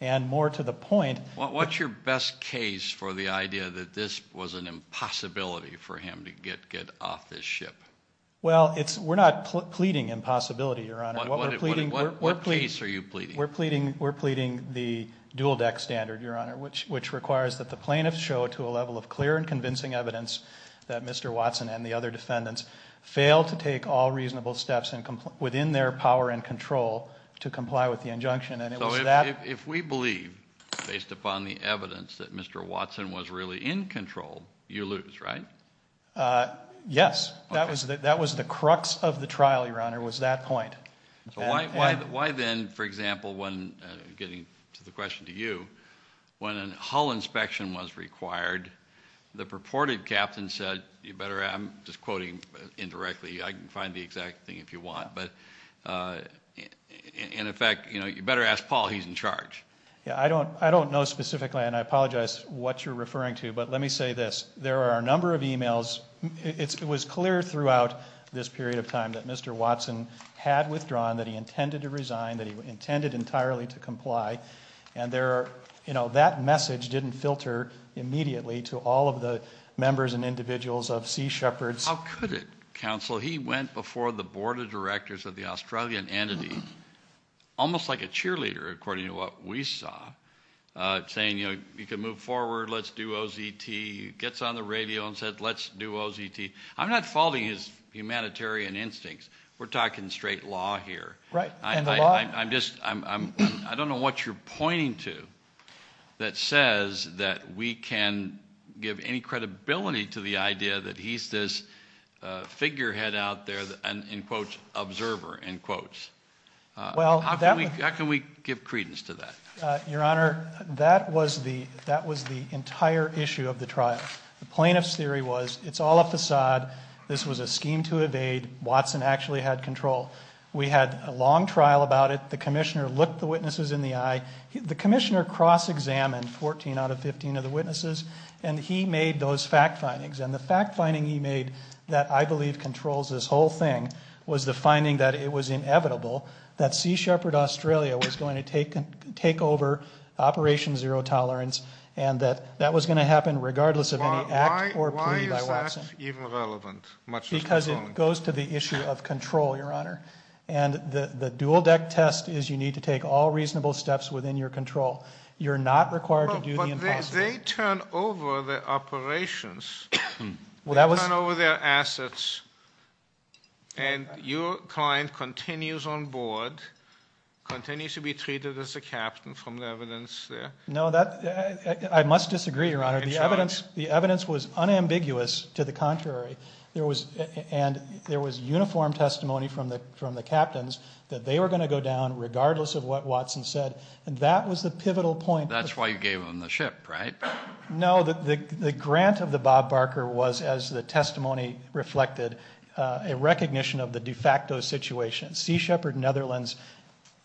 and more to the point- What's your best case for the idea that this was an impossibility for him to get off this ship? Well, we're not pleading impossibility, Your Honor. What case are you pleading? We're pleading the dual deck standard, Your Honor, which requires that the plaintiffs show to a level of clear and convincing evidence that Mr. Watson and the other defendants failed to take all reasonable steps within their power and control to comply with the injunction, and it was that- If we believe, based upon the evidence, that Mr. Watson was really in control, you lose, right? Yes, that was the crux of the trial, Your Honor, was that point. Why then, for example, when- getting to the question to you- when a hull inspection was required, the purported captain said- I'm just quoting indirectly, I can find the exact thing if you want- in effect, you better ask Paul, he's in charge. I don't know specifically, and I apologize what you're referring to, but let me say this. There are a number of e-mails. It was clear throughout this period of time that Mr. Watson had withdrawn, that he intended to resign, that he intended entirely to comply, and that message didn't filter immediately to all of the members and individuals of Sea Shepherds. How could it, counsel? He went before the board of directors of the Australian entity, almost like a cheerleader, according to what we saw, saying, you know, you can move forward, let's do OZT. He gets on the radio and said, let's do OZT. I'm not faulting his humanitarian instincts. We're talking straight law here. Right, and the law- I'm just- I don't know what you're pointing to that says that we can give any credibility to the idea that he's this figurehead out there, in quotes, observer, in quotes. How can we give credence to that? Your Honor, that was the entire issue of the trial. The plaintiff's theory was it's all a facade. This was a scheme to evade. Watson actually had control. We had a long trial about it. The commissioner looked the witnesses in the eye. The commissioner cross-examined 14 out of 15 of the witnesses, and he made those fact findings, and the fact finding he made that I believe controls this whole thing was the finding that it was inevitable that Sea Shepherd Australia was going to take over Operation Zero Tolerance and that that was going to happen regardless of any act or plea by Watson. Why is that even relevant? Because it goes to the issue of control, Your Honor, and the dual-deck test is you need to take all reasonable steps within your control. You're not required to do the impossible. They turn over the operations. They turn over their assets, and your client continues on board, continues to be treated as a captain from the evidence there. No, I must disagree, Your Honor. The evidence was unambiguous to the contrary, and there was uniform testimony from the captains that they were going to go down regardless of what Watson said, and that was the pivotal point. That's why you gave them the ship, right? No, the grant of the Bob Barker was, as the testimony reflected, a recognition of the de facto situation. Sea Shepherd Netherlands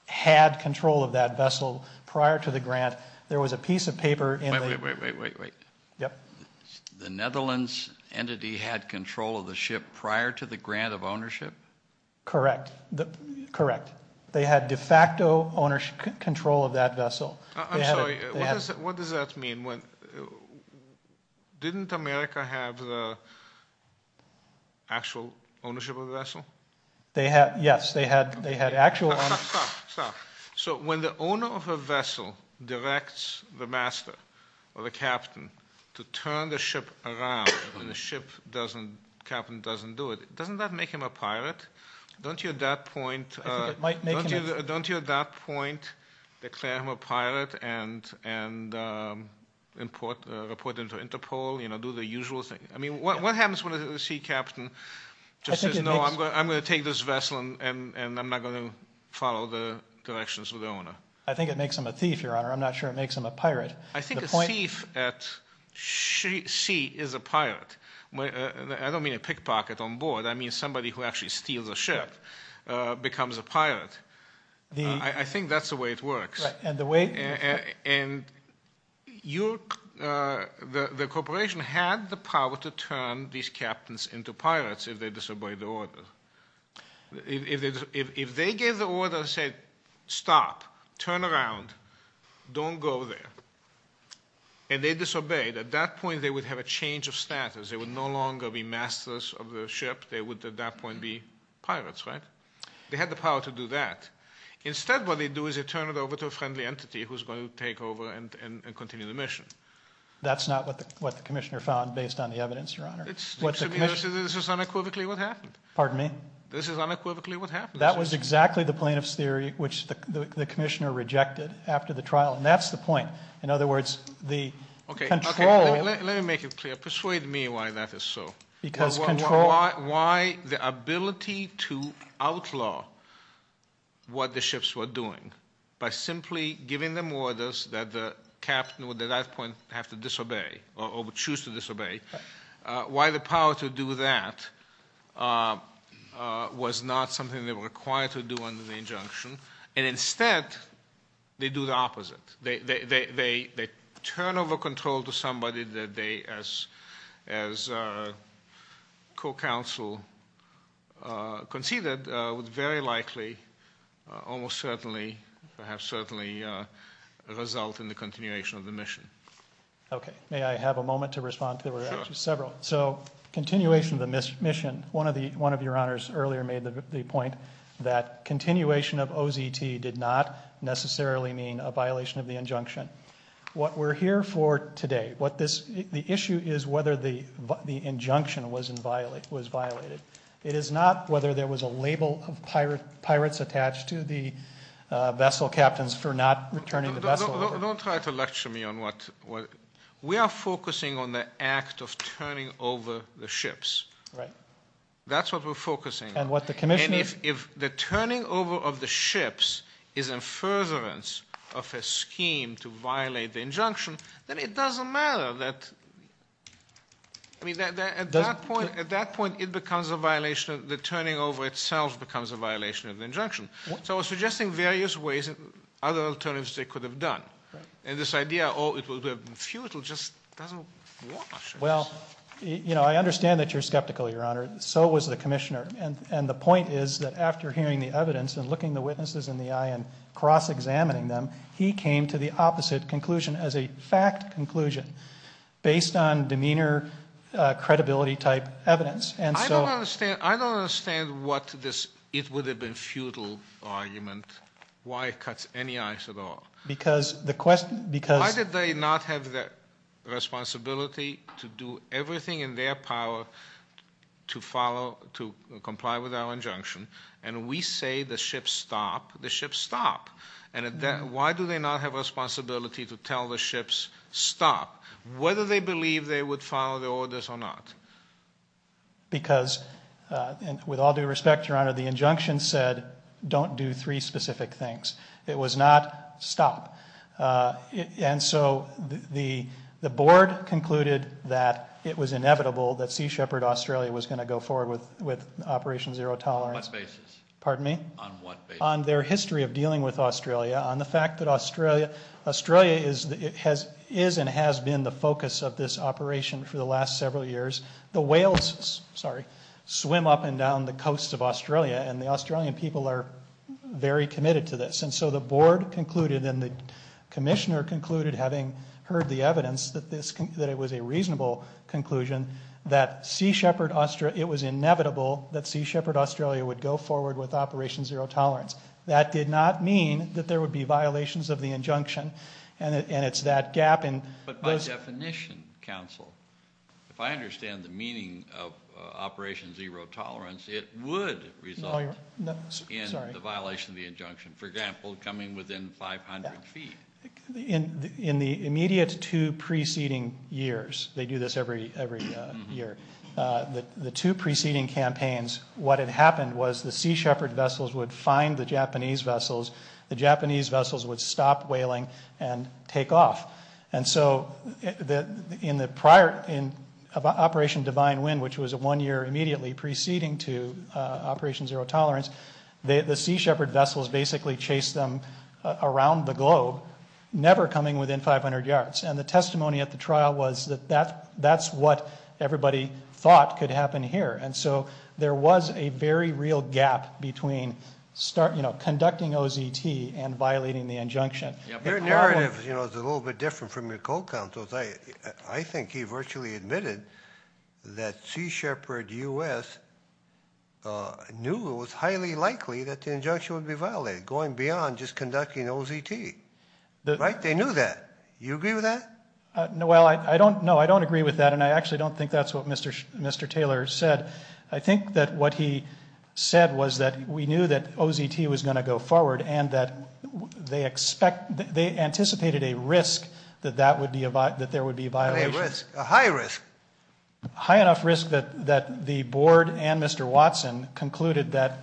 had control of that vessel prior to the grant. There was a piece of paper in the- Wait, wait, wait, wait, wait. Yep. The Netherlands entity had control of the ship prior to the grant of ownership? Correct, correct. They had de facto ownership control of that vessel. I'm sorry. What does that mean? Didn't America have the actual ownership of the vessel? Yes, they had actual ownership. Stop, stop, stop. So when the owner of a vessel directs the master or the captain to turn the ship around when the captain doesn't do it, doesn't that make him a pirate? Don't you at that point- I think it might make him a- and report him to Interpol, do the usual thing. I mean, what happens when the sea captain just says, no, I'm going to take this vessel and I'm not going to follow the directions of the owner? I think it makes him a thief, Your Honor. I'm not sure it makes him a pirate. I think a thief at sea is a pirate. I don't mean a pickpocket on board. I mean somebody who actually steals a ship becomes a pirate. I think that's the way it works. Right, and the way- And the corporation had the power to turn these captains into pirates if they disobeyed the order. If they gave the order and said, stop, turn around, don't go there, and they disobeyed, at that point they would have a change of status. They would no longer be masters of the ship. They would at that point be pirates, right? They had the power to do that. Instead, what they do is they turn it over to a friendly entity who's going to take over and continue the mission. That's not what the commissioner found based on the evidence, Your Honor. This is unequivocally what happened. Pardon me? This is unequivocally what happened. That was exactly the plaintiff's theory which the commissioner rejected after the trial, and that's the point. In other words, the control- Okay, let me make it clear. Persuade me why that is so. Because control- Why the ability to outlaw what the ships were doing by simply giving them orders that the captain would at that point have to disobey or would choose to disobey, why the power to do that was not something they were required to do under the injunction, and instead they do the opposite. They turn over control to somebody that they, as co-counsel conceded, would very likely almost certainly, perhaps certainly, result in the continuation of the mission. Okay. May I have a moment to respond? There were actually several. Sure. So continuation of the mission. One of Your Honors earlier made the point that continuation of OZT did not necessarily mean a violation of the injunction. What we're here for today, the issue is whether the injunction was violated. It is not whether there was a label of pirates attached to the vessel captains for not returning the vessel. Don't try to lecture me on what- We are focusing on the act of turning over the ships. Right. That's what we're focusing on. And what the commissioner- If the turning over of the ships is a furtherance of a scheme to violate the injunction, then it doesn't matter that- I mean, at that point, it becomes a violation of- the turning over itself becomes a violation of the injunction. So I was suggesting various ways and other alternatives they could have done. And this idea, oh, it would have been futile, just doesn't work. Well, you know, I understand that you're skeptical, Your Honor. So was the commissioner. And the point is that after hearing the evidence and looking the witnesses in the eye and cross-examining them, he came to the opposite conclusion as a fact conclusion based on demeanor credibility type evidence. I don't understand what this it would have been futile argument, why it cuts any eyes at all. Because the question- Why did they not have the responsibility to do everything in their power to follow, to comply with our injunction? And we say the ships stop. The ships stop. And why do they not have responsibility to tell the ships stop, whether they believe they would follow the orders or not? Because, with all due respect, Your Honor, the injunction said don't do three specific things. It was not stop. And so the board concluded that it was inevitable that Sea Shepherd Australia was going to go forward with Operation Zero Tolerance. On what basis? Pardon me? On what basis? On their history of dealing with Australia, on the fact that Australia is and has been the focus of this operation for the last several years. The whales swim up and down the coast of Australia, and the Australian people are very committed to this. And so the board concluded and the commissioner concluded, having heard the evidence that it was a reasonable conclusion, that it was inevitable that Sea Shepherd Australia would go forward with Operation Zero Tolerance. That did not mean that there would be violations of the injunction, and it's that gap in- But by definition, counsel, if I understand the meaning of Operation Zero Tolerance, it would result in the violation of the injunction. For example, coming within 500 feet. In the immediate two preceding years, they do this every year, the two preceding campaigns, what had happened was the Sea Shepherd vessels would find the Japanese vessels, the Japanese vessels would stop whaling and take off. And so in the prior, in Operation Divine Wind, which was one year immediately preceding to Operation Zero Tolerance, the Sea Shepherd vessels basically chased them around the globe, never coming within 500 yards. And the testimony at the trial was that that's what everybody thought could happen here. And so there was a very real gap between conducting OZT and violating the injunction. Your narrative is a little bit different from your co-counsel's. I think he virtually admitted that Sea Shepherd U.S. knew it was highly likely that the injunction would be violated, going beyond just conducting OZT. Right? They knew that. Do you agree with that? No, I don't agree with that, and I actually don't think that's what Mr. Taylor said. I think that what he said was that we knew that OZT was going to go forward and that they anticipated a risk that there would be violations. A high risk. A high enough risk that the board and Mr. Watson concluded that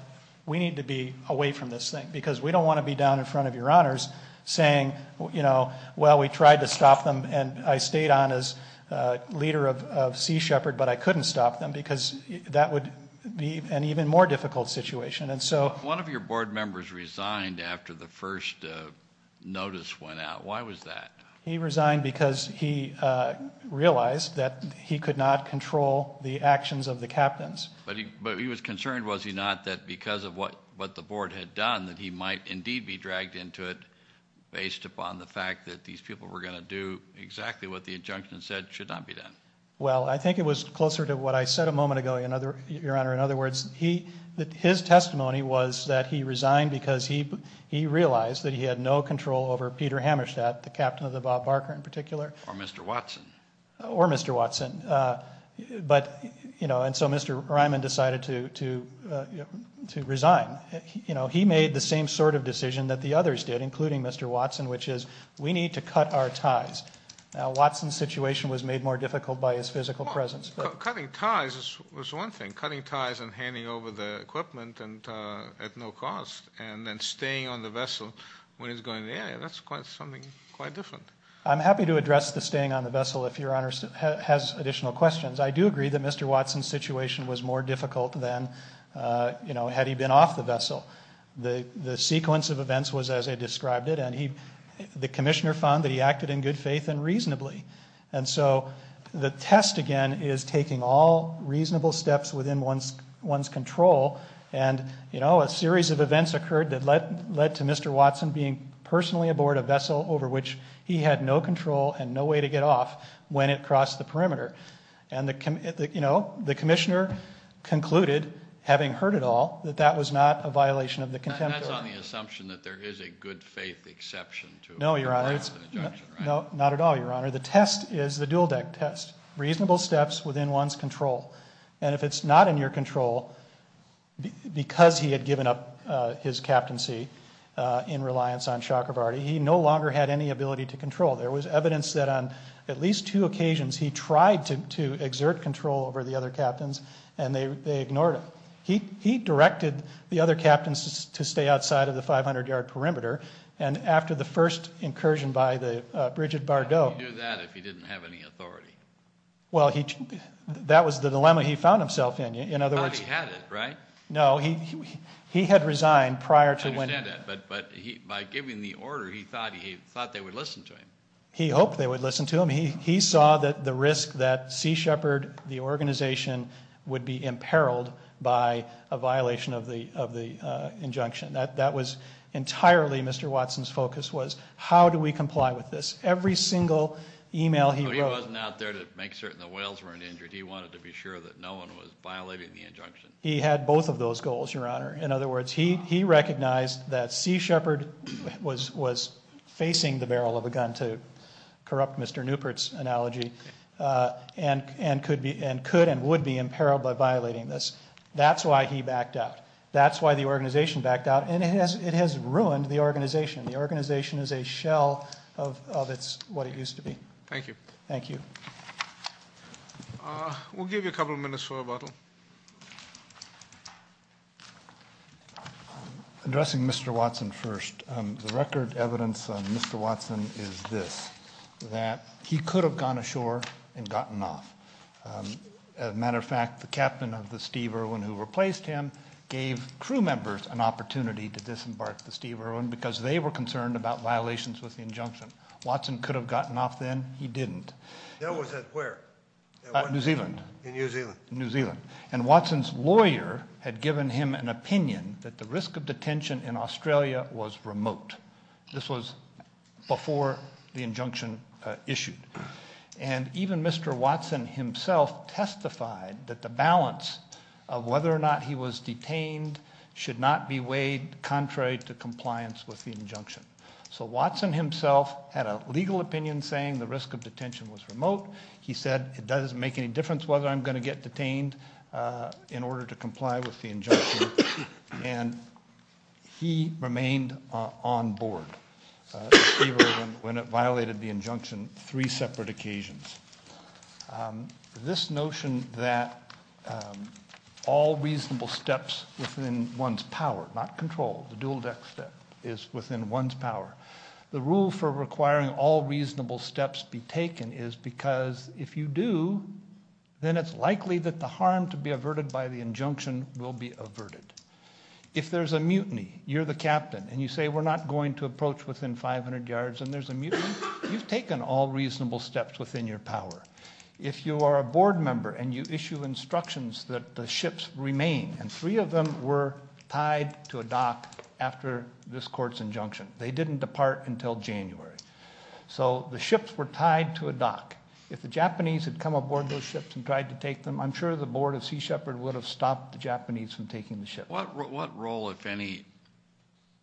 we need to be away from this thing because we don't want to be down in front of your honors saying, you know, well, we tried to stop them, and I stayed on as leader of Sea Shepherd, but I couldn't stop them because that would be an even more difficult situation. One of your board members resigned after the first notice went out. Why was that? He resigned because he realized that he could not control the actions of the captains. But he was concerned, was he not, that because of what the board had done, that he might indeed be dragged into it based upon the fact that these people were going to do exactly what the injunction said should not be done. Well, I think it was closer to what I said a moment ago, Your Honor. In other words, his testimony was that he resigned because he realized that he had no control over Peter Hammerstadt, the captain of the Bob Barker in particular. Or Mr. Watson. Or Mr. Watson. But, you know, and so Mr. Ryman decided to resign. You know, he made the same sort of decision that the others did, including Mr. Watson, which is we need to cut our ties. Now, Watson's situation was made more difficult by his physical presence. Cutting ties was one thing. Cutting ties and handing over the equipment at no cost and then staying on the vessel when he's going to the area, that's something quite different. I'm happy to address the staying on the vessel if Your Honor has additional questions. I do agree that Mr. Watson's situation was more difficult than, you know, had he been off the vessel. The sequence of events was as I described it, and the commissioner found that he acted in good faith and reasonably. And so the test, again, is taking all reasonable steps within one's control and, you know, a series of events occurred that led to Mr. Watson being personally aboard a vessel over which he had no control and no way to get off when it crossed the perimeter. And, you know, the commissioner concluded, having heard it all, that that was not a violation of the contempt order. That's on the assumption that there is a good faith exception to it. No, Your Honor. No, not at all, Your Honor. The test is the dual deck test. Reasonable steps within one's control. And if it's not in your control, because he had given up his captaincy in reliance on Chakravarty, he no longer had any ability to control. There was evidence that on at least two occasions he tried to exert control over the other captains, and they ignored him. He directed the other captains to stay outside of the 500-yard perimeter, and after the first incursion by the Bridget Bardot. How could he do that if he didn't have any authority? Well, that was the dilemma he found himself in. In other words. Thought he had it, right? No, he had resigned prior to winning. I understand that. But by giving the order, he thought they would listen to him. He hoped they would listen to him. He saw the risk that Sea Shepherd, the organization, would be imperiled by a violation of the injunction. That was entirely Mr. Watson's focus, was how do we comply with this? Every single email he wrote. But he wasn't out there to make certain the whales weren't injured. He wanted to be sure that no one was violating the injunction. He had both of those goals, Your Honor. In other words, he recognized that Sea Shepherd was facing the barrel of a gun, to corrupt Mr. Newport's analogy, and could and would be imperiled by violating this. That's why he backed out. That's why the organization backed out. And it has ruined the organization. The organization is a shell of what it used to be. Thank you. Thank you. We'll give you a couple minutes for rebuttal. Addressing Mr. Watson first. The record evidence on Mr. Watson is this, that he could have gone ashore and gotten off. As a matter of fact, the captain of the Steve Irwin who replaced him gave crew members an opportunity to disembark the Steve Irwin because they were concerned about violations with the injunction. Watson could have gotten off then. He didn't. New Zealand. In New Zealand. In New Zealand. And Watson's lawyer had given him an opinion that the risk of detention in Australia was remote. This was before the injunction issued. And even Mr. Watson himself testified that the balance of whether or not he was detained should not be weighed contrary to compliance with the injunction. So Watson himself had a legal opinion saying the risk of detention was remote. He said it doesn't make any difference whether I'm going to get detained in order to comply with the injunction. And he remained on board. Steve Irwin, when it violated the injunction, three separate occasions. This notion that all reasonable steps within one's power, not control, the dual deck step, is within one's power. The rule for requiring all reasonable steps be taken is because if you do, then it's likely that the harm to be averted by the injunction will be averted. If there's a mutiny, you're the captain, and you say we're not going to approach within 500 yards and there's a mutiny, you've taken all reasonable steps within your power. If you are a board member and you issue instructions that the ships remain, and three of them were tied to a dock after this court's injunction. They didn't depart until January. So the ships were tied to a dock. If the Japanese had come aboard those ships and tried to take them, I'm sure the board of Sea Shepherd would have stopped the Japanese from taking the ship. What role, if any,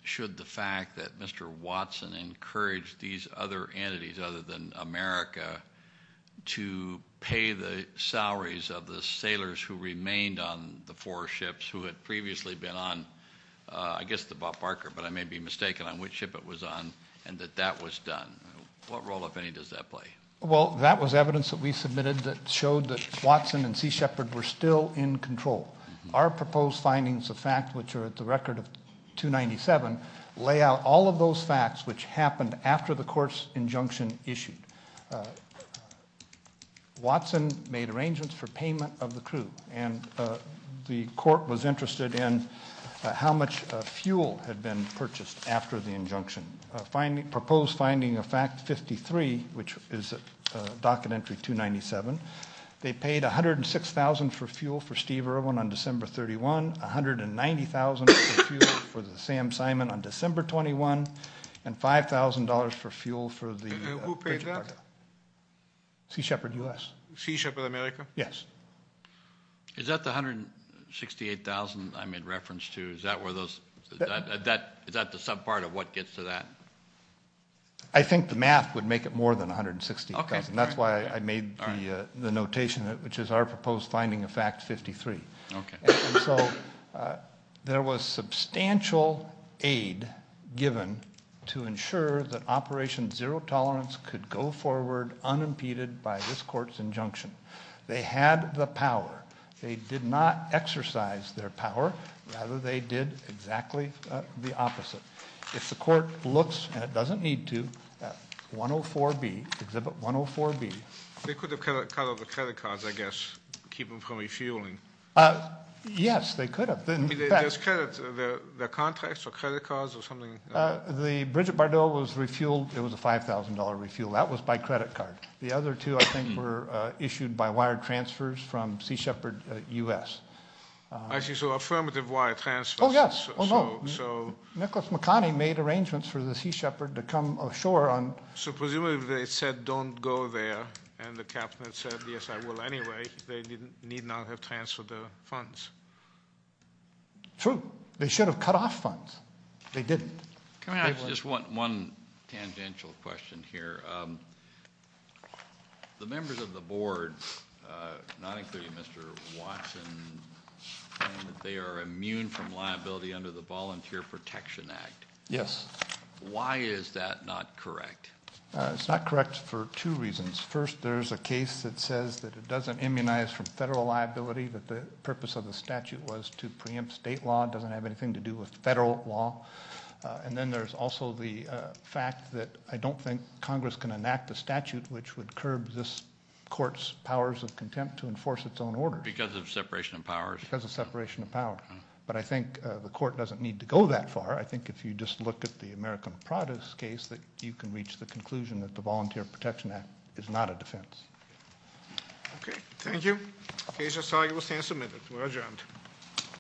should the fact that Mr. Watson encouraged these other entities other than America to pay the salaries of the sailors who remained on the four ships who had previously been on, I guess the Bob Barker, but I may be mistaken on which ship it was on, and that that was done? What role, if any, does that play? Well, that was evidence that we submitted that showed that Watson and Sea Shepherd were still in control. Our proposed findings of fact, which are at the record of 297, lay out all of those facts which happened after the court's injunction issued. Watson made arrangements for payment of the crew, and the court was interested in how much fuel had been purchased after the injunction. Proposed finding of fact 53, which is a docket entry 297, they paid $106,000 for fuel for Steve Irwin on December 31, $190,000 for fuel for the Sam Simon on December 21, and $5,000 for fuel for the – Who paid that? Sea Shepherd U.S. Sea Shepherd America? Yes. Is that the $168,000 I made reference to? Is that the subpart of what gets to that? I think the math would make it more than $160,000. That's why I made the notation, which is our proposed finding of fact 53. So there was substantial aid given to ensure that Operation Zero Tolerance could go forward unimpeded by this court's injunction. They had the power. They did not exercise their power. Rather, they did exactly the opposite. If the court looks, and it doesn't need to, at 104B, Exhibit 104B. They could have cut out the credit cards, I guess, to keep them from refueling. Yes, they could have. There's credit. Their contracts or credit cards or something? The Bridget Bardot was refueled. It was a $5,000 refuel. That was by credit card. The other two, I think, were issued by wire transfers from Sea Shepherd U.S. I see. So affirmative wire transfers. Oh, yes. Oh, no. Nicholas McConney made arrangements for the Sea Shepherd to come ashore. So presumably they said don't go there, and the captain said, yes, I will anyway. They need not have transferred the funds. True. They should have cut off funds. They didn't. Can I ask just one tangential question here? The members of the board, not including Mr. Watson, claim that they are immune from liability under the Volunteer Protection Act. Yes. Why is that not correct? It's not correct for two reasons. First, there's a case that says that it doesn't immunize from federal liability, that the purpose of the statute was to preempt state law. It doesn't have anything to do with federal law. And then there's also the fact that I don't think Congress can enact a statute which would curb this court's powers of contempt to enforce its own orders. Because of separation of powers? Because of separation of powers. But I think the court doesn't need to go that far. I think if you just look at the American Prada's case, that you can reach the conclusion that the Volunteer Protection Act is not a defense. Okay. Thank you. The case is argued and will stand submitted. We're adjourned.